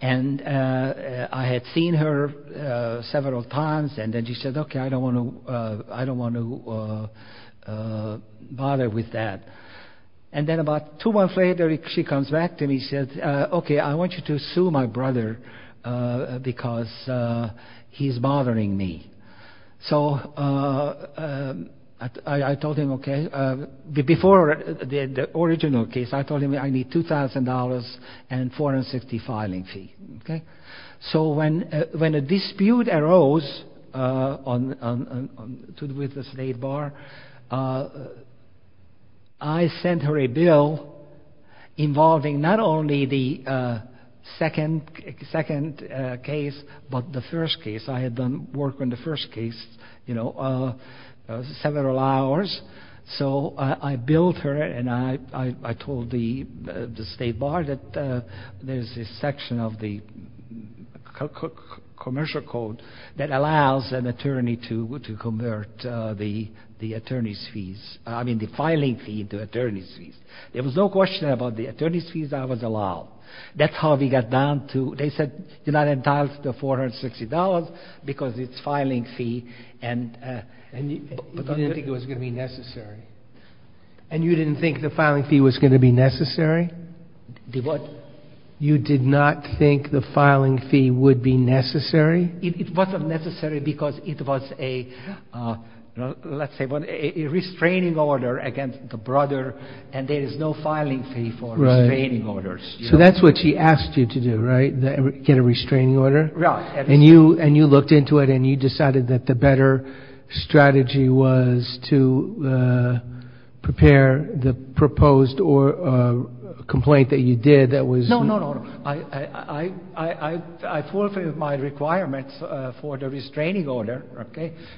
And I had seen her several times, and then she said, I don't want to bother with that. And then about two months later, she comes back to me and says, okay, I want you to sue my brother because he's bothering me. So I told him, okay. Before the original case, I told him I need $2,000 and $450 filing fee. So when a dispute arose with the State Bar, I sent her a bill involving not only the second case, but the first case. I had done work on the first case several hours. So I billed her and I told the State Bar that there's a section of the commercial code that allows an attorney to convert the attorney's fees, I mean the filing fee into attorney's fees. There was no question about the attorney's fees I was allowed. That's how we got down to, they said, you're not entitled to the $460 because it's filing fee. And you didn't think the filing fee was going to be necessary? You did not think the filing fee would be necessary? It wasn't necessary because it was a, let's say, a restraining order against the brother and there is no filing fee for restraining orders. So that's what she asked you to do, right? Get a restraining order? And you looked into it and you decided that the better strategy was to prepare the proposed complaint that you did that was... No, no, no. I fulfilled my requirement for the restraining order.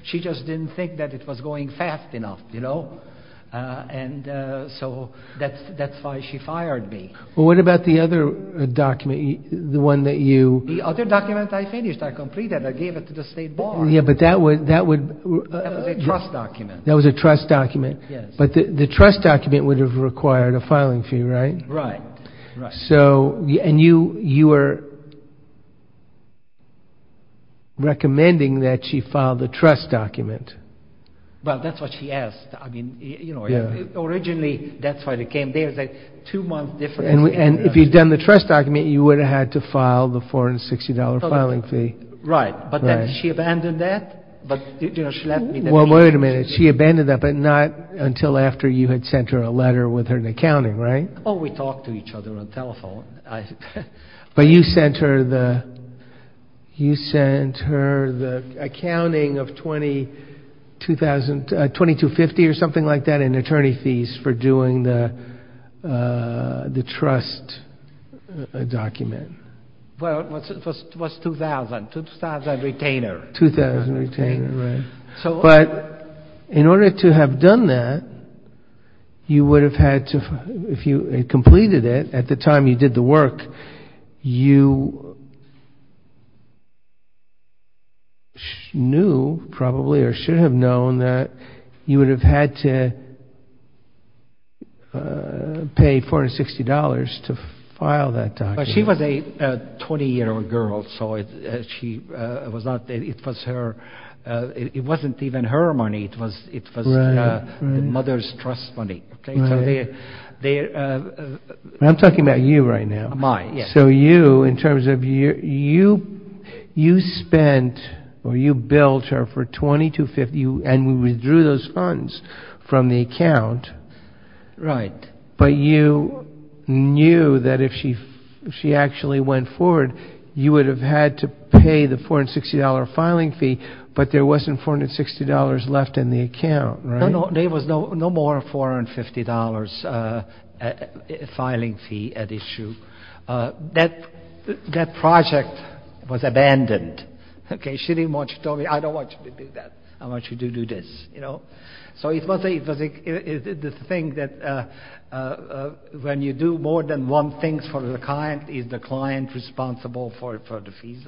She just didn't think that it was going fast enough. And so that's why she fired me. Well, what about the other document, the one that you... The other document I finished, I completed, I gave it to the State Bar. That was a trust document. But the trust document would have required a filing fee, right? And you were... recommending that she file the trust document. Well, that's what she asked. Originally, that's how it came. And if you'd done the trust document, you would have had to file the $460 filing fee. Right. But then she abandoned that. But not until after you had sent her a letter with her accounting, right? But you sent her the accounting of $2250 or something like that in attorney fees for doing the trust document. Well, it was $2,000, $2,000 retainer. But in order to have done that, you would have had to... completed it at the time you did the work. You knew, probably, or should have known that you would have had to pay $460 to file that document. She was a 20-year-old girl, so it was not... it wasn't even her money, it was the mother's trust money. I'm talking about you right now. So you, in terms of, you spent, or you built her for $2250 and you withdrew those funds from the account. But you knew that if she actually went forward, you would have had to pay the $460 filing fee, but there wasn't $460 left in the account, right? There was no more $450 filing fee at issue. That project was abandoned. She didn't want to tell me, I don't want you to do that. I want you to do this. So it's the thing that when you do more than one thing for the client, is the client responsible for the fees?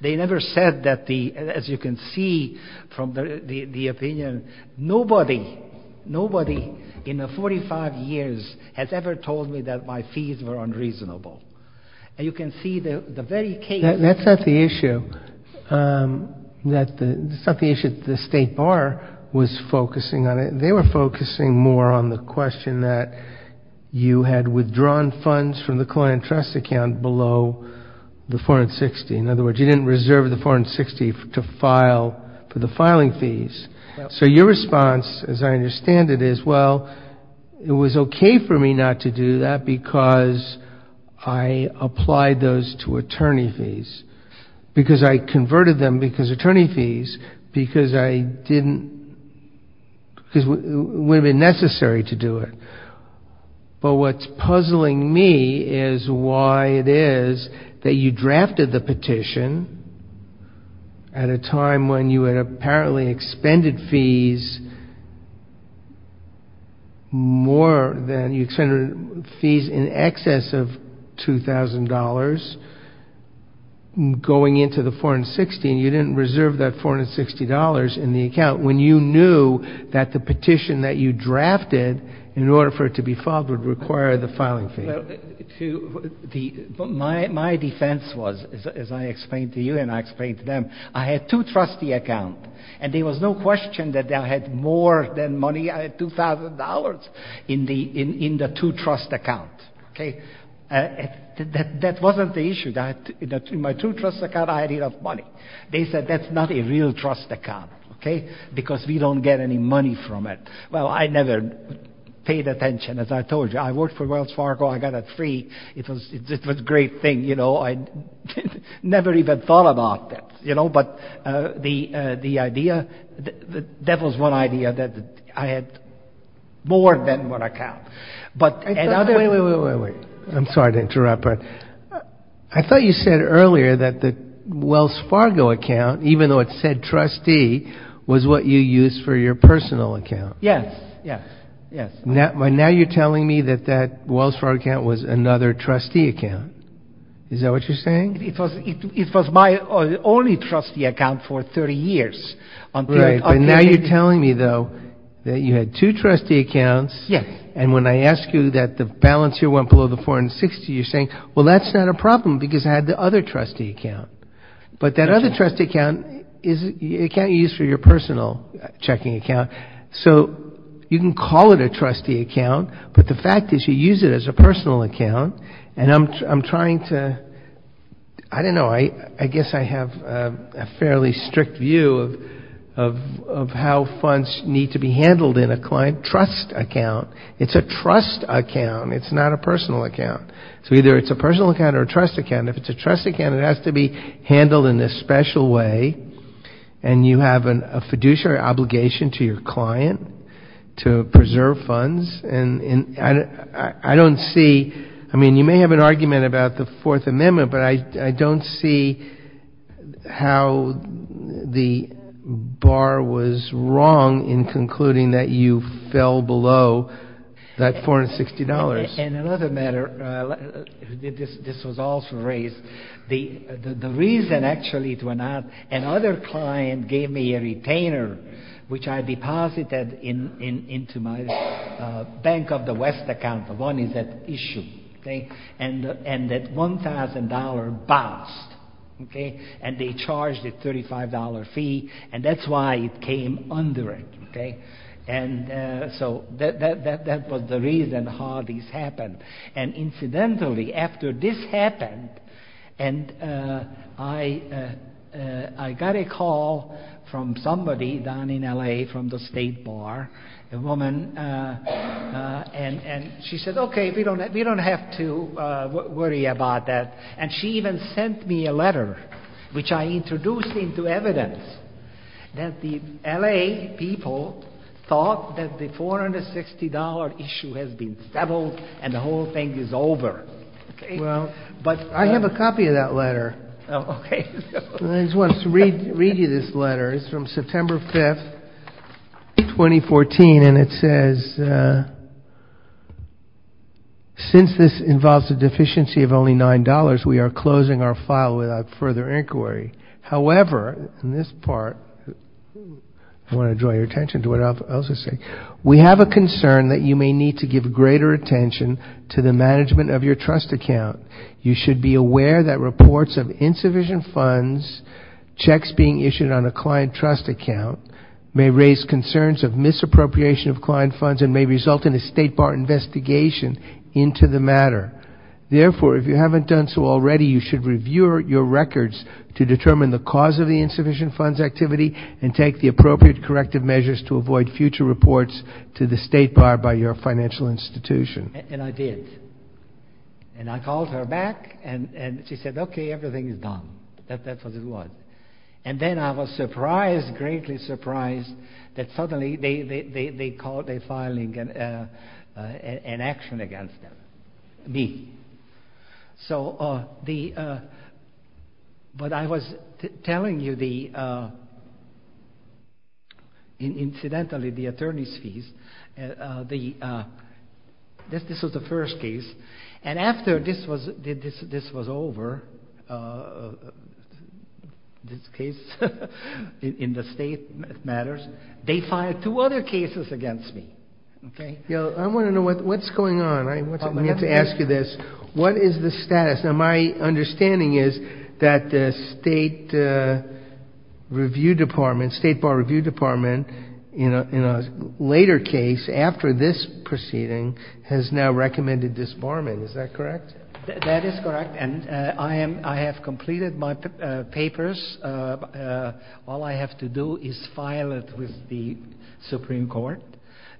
They never said that, as you can see from the opinion, nobody in the 45 years has ever told me that my fees were unreasonable. And you can see the very case... It's not the issue, the State Bar was focusing on it. They were focusing more on the question that you had withdrawn funds from the client trust account below the $460. In other words, you didn't reserve the $460 for the filing fees. So your response, as I understand it, is, well, it was okay for me not to do that because I applied those to attorney fees, because I converted them because attorney fees, because it would have been necessary to do it. But what's puzzling me is why it is that you drafted the petition at a time when you had apparently extended fees more than, you extended fees in excess of $2,000 going into the $460, and you didn't reserve that $460 in the account when you knew that the petition that you drafted in order for it to be filed would require the filing fees. My defense was, as I explained to you and I explained to them, I had two trustee accounts, and there was no question that I had more than money, $2,000 in the two trust accounts. That wasn't the issue, that in my two trust accounts I had enough money. They said, that's not a real trust account because we don't get any money from it. Well, I never paid attention, as I told you. I worked for Wells Fargo, I got a three, it was a great thing. I never even thought about that. That was one idea, that I had more than one account. Wait, I'm sorry to interrupt. I thought you said earlier that the Wells Fargo account, even though it said trustee, was what you used for your personal account. Now you're telling me that that Wells Fargo account was another trustee account. Is that what you're saying? It was my only trustee account for 30 years. Now you're telling me, though, that you had two trustee accounts, and when I ask you that the balance here went below the 460, you're saying, well, that's not a problem because I had the other trustee account. But that other trustee account, it can't be used for your personal checking account. So you can call it a trustee account, but the fact is you use it as a personal account, and I'm trying to, I don't know, I guess I have a fairly strict view of how funds need to be handled in a client trust account. It's a trust account. It's not a personal account. So either it's a personal account or a trust account. If it's a trust account, it has to be handled in a special way, and you have a fiduciary obligation to your client to preserve funds. And I don't see, I mean, you may have an argument about the Fourth Amendment, but I don't see how the bar was wrong in concluding that you fell below that $460. And another matter, this was also raised, the reason actually it went up, another client gave me a retainer, which I deposited into my Bank of the West account. One is that issue, and that $1,000 bounced, and they charged a $35 fee, and that's why it came under it. And so that was the reason how this happened. And incidentally, after this happened, I got a call from somebody down in L.A., from the State Bar, a woman, and she said, okay, we don't have to worry about that. And she even sent me a letter, which I introduced into evidence that the L.A. people thought that the $460 issue has been settled and the whole thing is over. But I have a copy of that letter. I just wanted to read you this letter. It's from September 5, 2014, and it says, since this involves a deficiency of only $9, we are closing our file without further inquiry. However, in this part, I want to draw your attention to what else it says. We have a concern that you may need to give greater attention to the management of your trust account. You should be aware that reports of insufficient funds, checks being issued on a client trust account, may raise concerns of misappropriation of client funds and may result in a State Bar investigation into the matter. Therefore, if you haven't done so already, you should review your records to determine the cause of the insufficient funds activity and take the appropriate corrective measures to avoid future reports to the State Bar by your financial institution. And I did. And I called her back and she said, okay, everything is done. That's what it was. And then I was surprised, greatly surprised, that suddenly they called a filing an action against me. So the, but I was telling you the, incidentally, the attorney's fees, the, this was the first case. And after this was, this was over, this case in the State matters, they filed two other cases against me. I want to know what's going on. I have to ask you this. What is the status? Now, my understanding is that the State Review Department, State Bar Review Department, in a later case, after this proceeding, has now recommended this barman. Is that correct? That is correct. And I am, I have completed my papers. All I have to do is file it with the Supreme Court,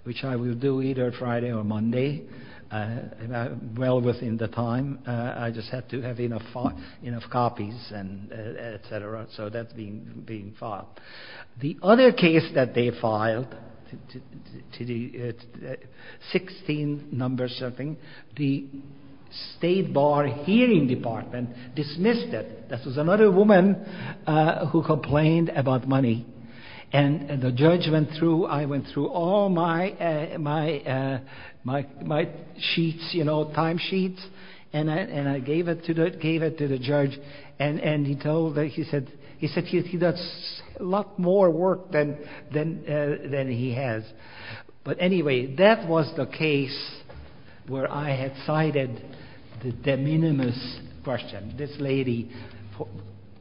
which I will do either Friday or Monday, well within the time. I just have to have enough copies and et cetera. So that's being filed. The other case that they filed, 16 number something, the State Bar Hearing Department dismissed it. This was another woman who complained about money. And the judge went through, I went through all my sheets, you know, timesheets, and I gave it to the judge. And he told, he said he does a lot more work than he has. But anyway, that was the case where I had cited the de minimis question. And this lady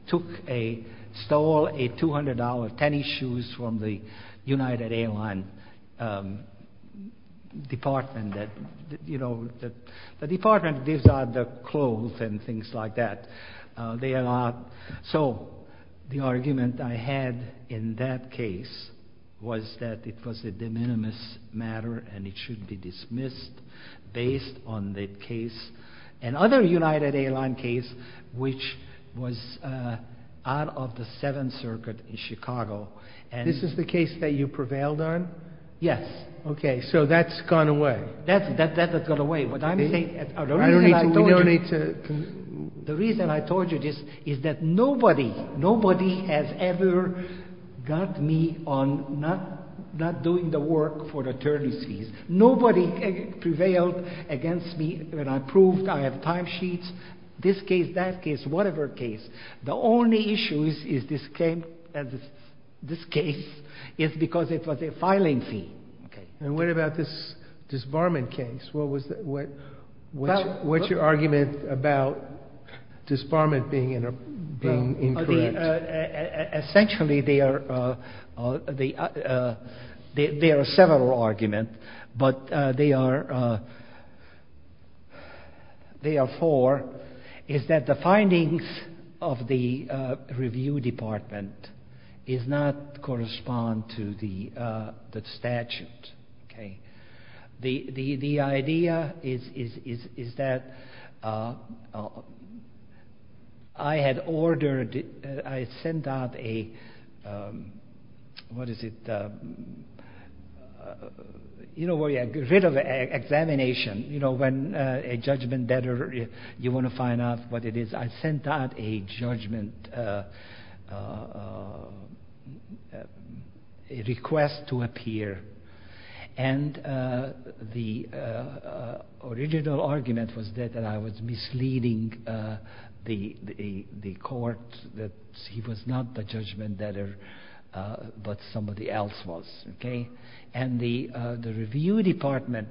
took a, stole a $200 tennis shoes from the United Airlines Department that, you know, the Department gives out the clothes and things like that. So the argument I had in that case was that it was a de minimis matter and it should be dismissed based on the case. And other United Airlines case, which was out of the Seventh Circuit in Chicago. This is the case that you prevailed on? Yes. Okay. So that's gone away. Nobody has ever got me on not doing the work for the attorneys. Nobody prevailed against me when I proved I have timesheets. This case, that case, whatever case. The only issue is this case is because it was a filing fee. And what about this disbarment case? What's your argument about disbarment being incorrect? Essentially, there are several arguments, but there are four. It's that the findings of the review department does not correspond to the statute. The idea is that I had ordered, I sent out a, what is it? You know, a bit of an examination. When a judgment better, you want to find out what it is. I sent out a judgment, a request to appear. And the original argument was that I was misleading the court that he was not the judgment better, but somebody else was. And the review department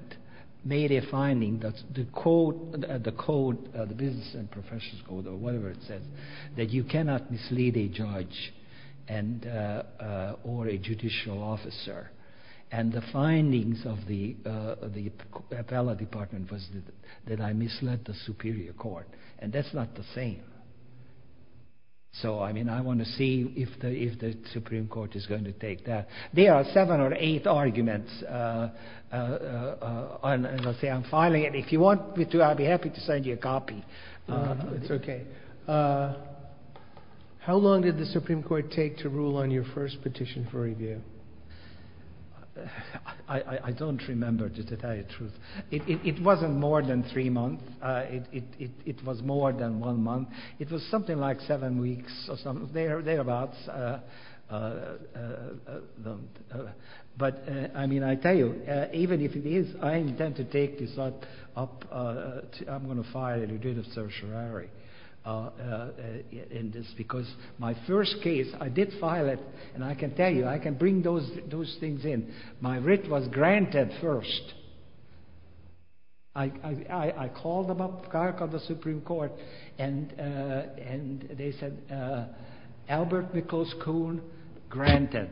made a finding that the code, the business and professional code or whatever it said, that you cannot mislead a judge or a judicial officer. And the findings of the appellate department was that I misled the superior court. And that's not the same. So, I mean, I want to see if the Supreme Court is going to take that. There are seven or eight arguments. And if you want me to, I'll be happy to send you a copy. How long did the Supreme Court take to rule on your first petition for review? I don't remember, to tell you the truth. It wasn't more than three months. It was more than one month. It was something like seven weeks or something, thereabouts. But, I mean, I tell you, even if it is, I intend to take this up, I'm going to file it and do the tertiary in this, because my first case, I did file it. And I can tell you, I can bring those things in. My writ was granted first. I called the Supreme Court and they said, Albert Nichols Kuhn, granted.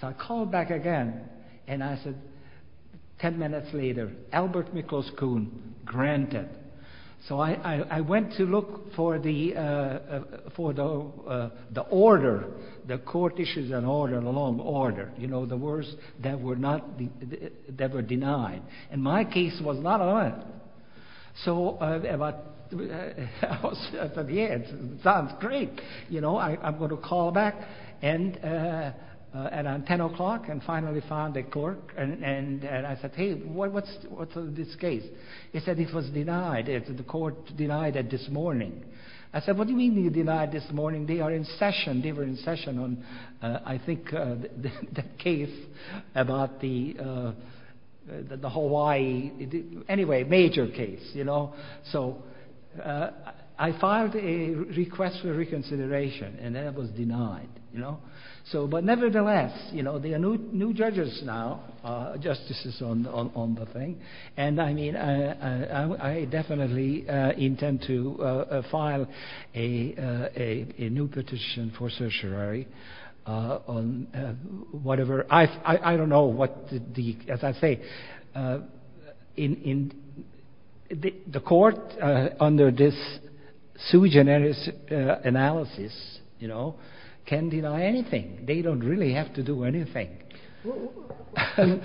So I called back again and I said, ten minutes later, Albert Nichols Kuhn, granted. So I went to look for the order, the court issues and order, the long order, the words that were denied. And my case was not on it. So I said, yeah, sounds great. I'm going to call back at ten o'clock and finally find the court. And I said, hey, what's with this case? He said it was denied, the court denied it this morning. I said, what do you mean it was denied this morning? They were in session on, I think, the case about the Hawaii, anyway, major case. So I filed a request for reconsideration and that was denied. But nevertheless, there are new judges now, justices on the thing. And I mean, I definitely intend to file a new petition for certiorari on whatever. I don't know what the, as I say, the court under this sui generis analysis can deny anything. They don't really have to do anything.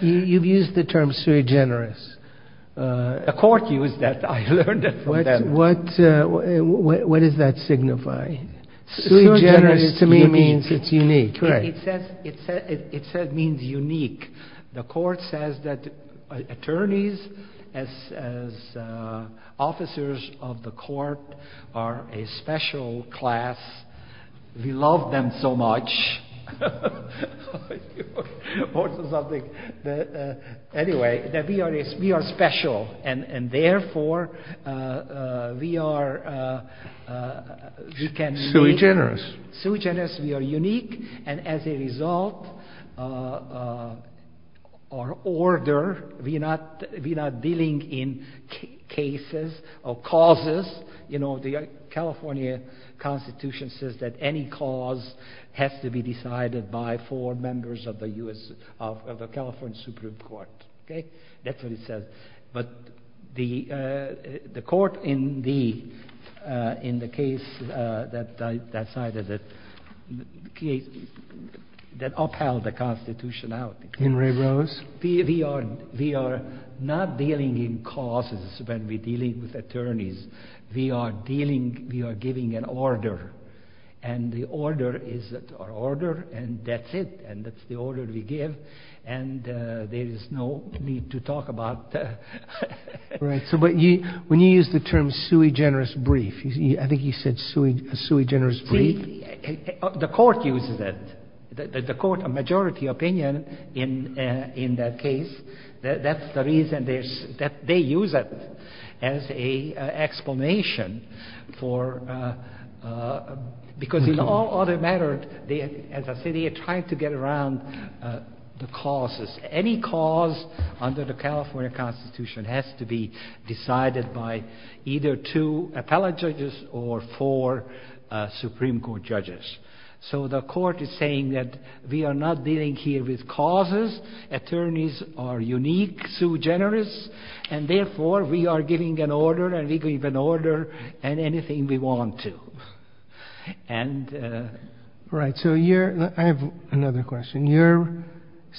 You've used the term sui generis. The court used that. I learned that from them. What does that signify? Sui generis to me means it's unique. It means unique. The court says that attorneys, as officers of the court, are a special class. We love them so much. Anyway, that we are special. And therefore, we are... Sui generis. Sui generis, we are unique, and as a result, our order, we're not dealing in cases or causes. The California Constitution says that any cause has to be decided by four members of the California Supreme Court. That's what it says. But the court in the case that I cited, that upheld the Constitution out. We are not dealing in causes when we're dealing with attorneys. We are dealing, we are giving an order, and the order is our order, and that's it, and that's the order we give. And there's no need to talk about... When you use the term sui generis brief, I think you said sui generis brief. The court uses it. The court, a majority opinion in that case, that's the reason that they use it as an explanation for... As I said, they are trying to get around the causes. Any cause under the California Constitution has to be decided by either two appellate judges or four Supreme Court judges. So the court is saying that we are not dealing here with causes. Attorneys are unique, sui generis, and therefore, we are giving an order, and we give an order, and anything we want to. I have another question. Your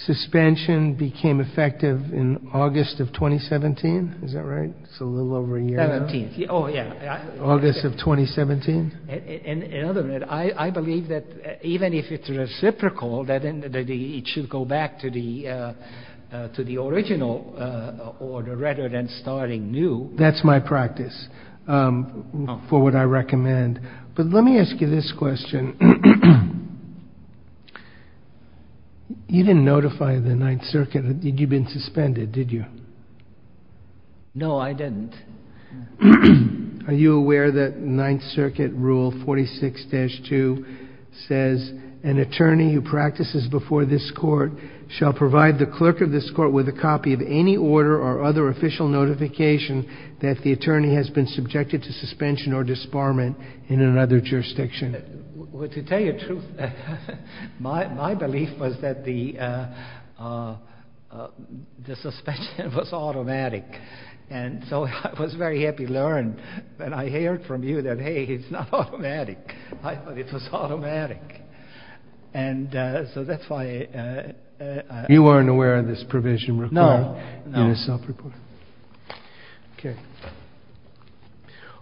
suspension became effective in August of 2017, is that right? August of 2017? I believe that even if it's reciprocal, that it should go back to the practice for what I recommend. But let me ask you this question. You didn't notify the Ninth Circuit that you'd been suspended, did you? No, I didn't. Are you aware that Ninth Circuit Rule 46-2 says, an attorney who practices before this court shall provide the clerk of this court with a copy of any order or other official notification that the attorney has been subjected to suspension or disbarment in another jurisdiction? To tell you the truth, my belief was that the suspension was automatic. So I was very happy to learn that I heard from you that, hey, it's not automatic. I thought it was automatic. You weren't aware of this provision required? No.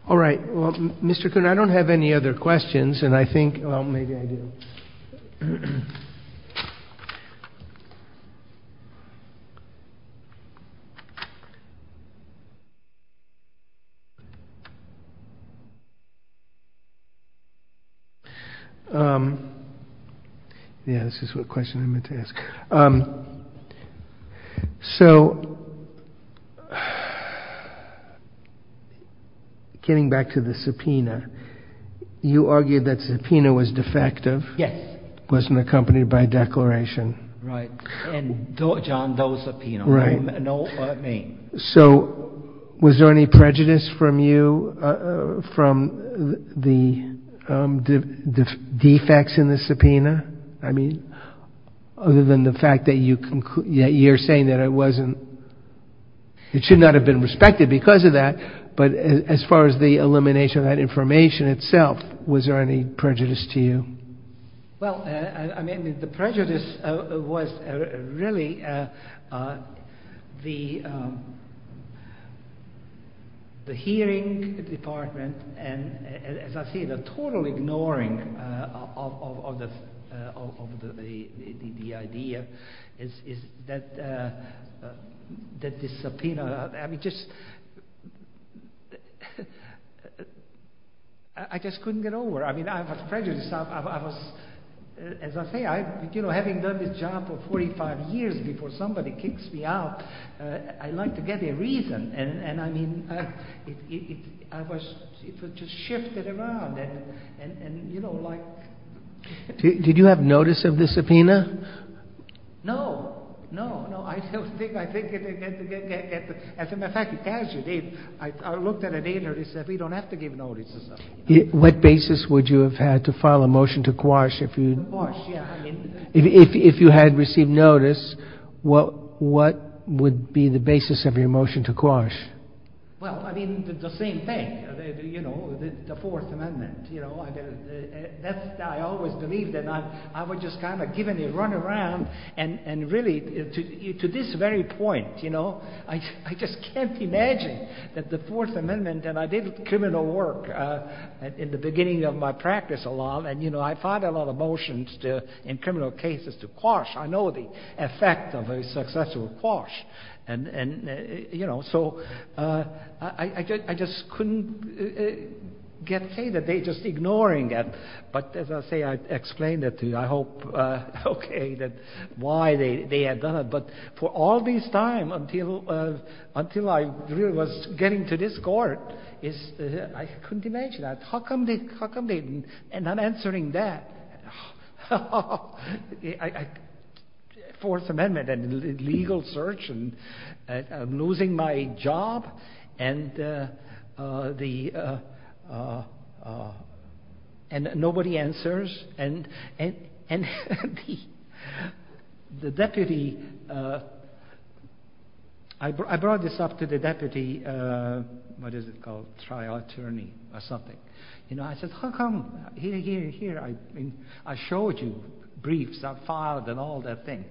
All right. Mr. Kuhn, I don't have any other questions, and I think we have time for one more question. Yes, this is a question I meant to ask. So, getting back to the subpoena, you argued that the subpoena was defective? Yes. It wasn't accompanied by a declaration. Right. So was there any prejudice from you from the defects in the subpoena? I mean, other than the fact that you're saying that it wasn't, it should not have been respected because of that, but as far as the elimination of that information itself, was there any prejudice to you? Well, I mean, the prejudice was really the hearing department and, as I see, the total ignoring of the idea that the subpoena, I mean, just, I just couldn't get over it. I mean, I was prejudiced. I was, as I say, you know, having done this job for 45 years before somebody kicks me out, I like to get a reason, and I mean, I was just shifted around. Did you have notice of the subpoena? No. As a matter of fact, I looked at it later and said, we don't have to give notice. What basis would you have had to file a motion to quash if you had received notice, what would be the basis of your motion to quash? Well, I mean, the same thing, you know, the Fourth Amendment. I always believed that I was just kind of given a run around and really, to this very point, you know, I just can't imagine that the Fourth Amendment, and I did criminal work in the beginning of my practice a lot, and, you know, I filed a lot of motions in criminal cases to quash. I know the effect of a successful quash, and, you know, so I just couldn't say that they just ignoring it, but as I say, I explained it to you, I hope, okay, that why they had done it, but for all this time until I really was getting to this court, I couldn't imagine that. How come they didn't, and not answering that, Fourth Amendment and legal search and losing my job and the, and nobody answers, and the deputy, I brought this up to the deputy, what is it called, trial attorney or something, and I said, how come, here, here, here, I showed you briefs, I filed and all that thing,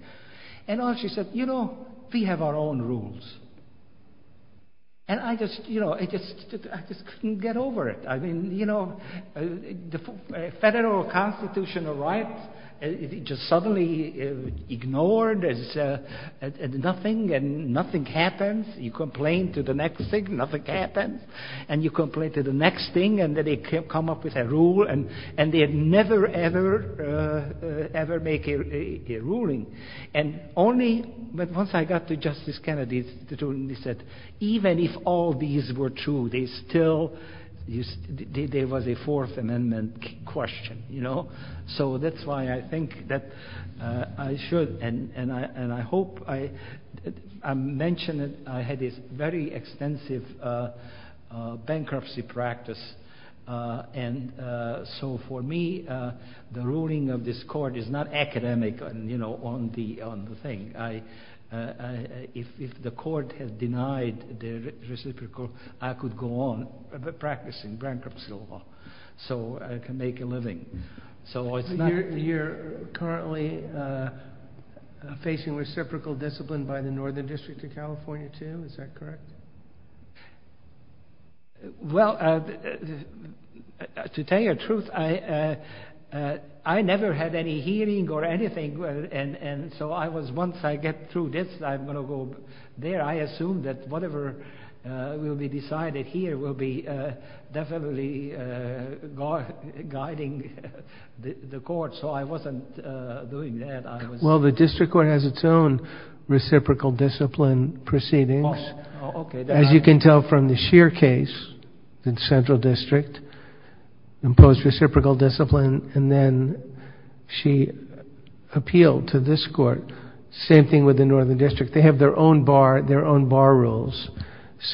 and all she said, you know, we have our own rules, and I just, you know, I just couldn't get over it. I mean, you know, federal constitutional rights, just suddenly ignored as nothing, and nothing happens. You complain to the next thing, nothing happens, and you complain to the next thing, and then they come up with a rule, and they never, ever, ever make a ruling, and only, but once I got to Justice Kennedy, he said, even if all these were true, they still, there was a I think that I should, and I hope, I mentioned that I had a very extensive bankruptcy practice, and so for me, the ruling of this court is not academic, you know, on the thing. If the court has denied the reciprocal, I could go on practicing bankruptcy law, so I can make a living. You're currently facing reciprocal discipline by the Northern District of California, too, is that correct? Well, to tell you the truth, I never had any hearing or anything, and so I was, once I get through this, I'm going to go there, I assume that whatever will be decided here will be definitely guiding the court, so I wasn't doing that. Well, the district court has its own reciprocal discipline proceedings, as you can tell from the Shear case in Central District, imposed reciprocal discipline, and then she has their own bar rules,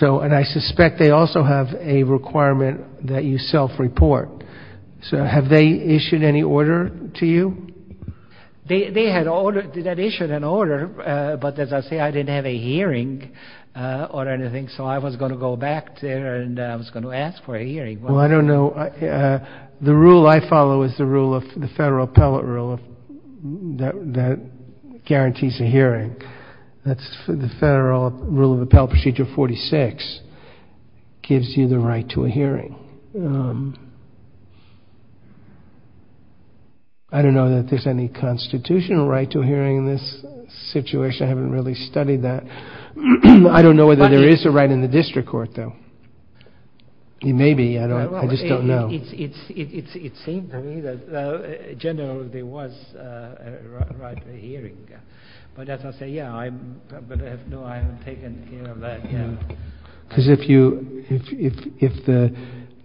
and I suspect they also have a requirement that you self-report, so have they issued any order to you? They had issued an order, but as I say, I didn't have a hearing or anything, so I was going to go back there and I was going to ask for a hearing. Well, I don't know, the rule I follow is the Federal Appellate Rule that guarantees a hearing. The Federal Rule of Appellate Procedure 46 gives you the right to a hearing. I don't know that there's any constitutional right to a hearing in this situation, I haven't really studied that. I don't know whether there is a right in the district court, though. Maybe, I just don't know. Generally, there was a right to a hearing, but as I say, no, I haven't taken care of that. If the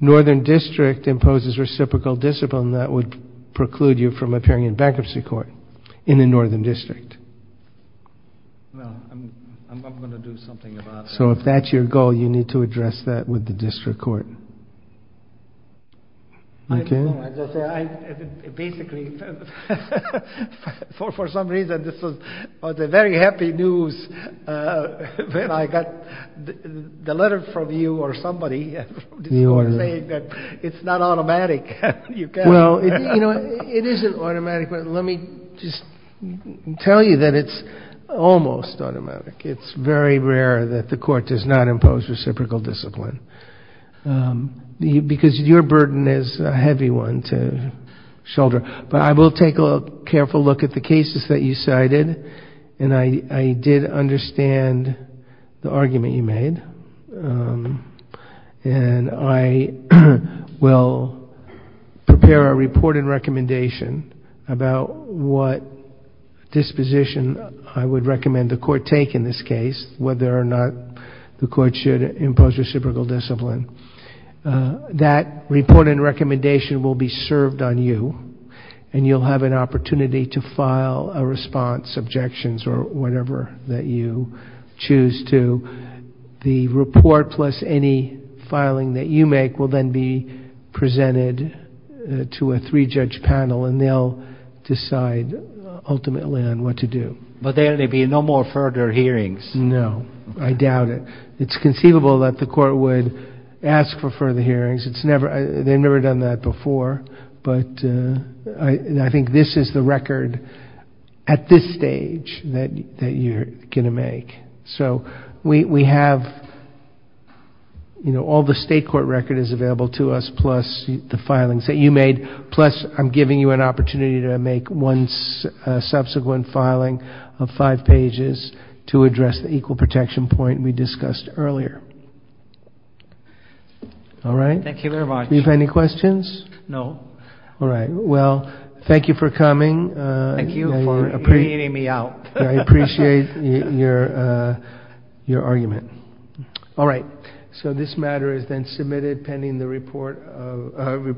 Northern District imposes reciprocal discipline, that would preclude you from appearing in bankruptcy court in the Northern District. Well, I'm not going to do something about that. So if that's your goal, you need to address that with the district court. Basically, for some reason, this was very happy news when I got the letter from you or somebody saying that it's not automatic. Well, it isn't automatic. Let me just tell you that it's almost automatic. It's very rare that the court does not impose reciprocal discipline, because your burden is a heavy one to shoulder. But I will take a careful look at the cases that you cited, and I did understand the argument you made. I will prepare a report and recommendation about what disposition I would recommend the court take in this case, whether or not the court should impose reciprocal discipline. That report and recommendation will be served on you, and you'll have an opportunity to file a response, objections, or whatever that you choose to. The report plus any filing that you make will then be presented to a three-judge panel, and they'll decide ultimately on what to do. But there will be no more further hearings? No, I doubt it. It's conceivable that the court would ask for further hearings. They've never done that before, but I think this is the record at this stage that you're going to make. So we have all the state court records available to us, plus the filings that you made, plus I'm giving you an opportunity to make one subsequent filing of five pages to address the reciprocal protection point we discussed earlier. Thank you very much. Thank you for coming. I appreciate your argument. So this matter is then submitted pending the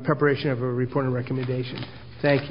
preparation of a report and recommendation. Thank you.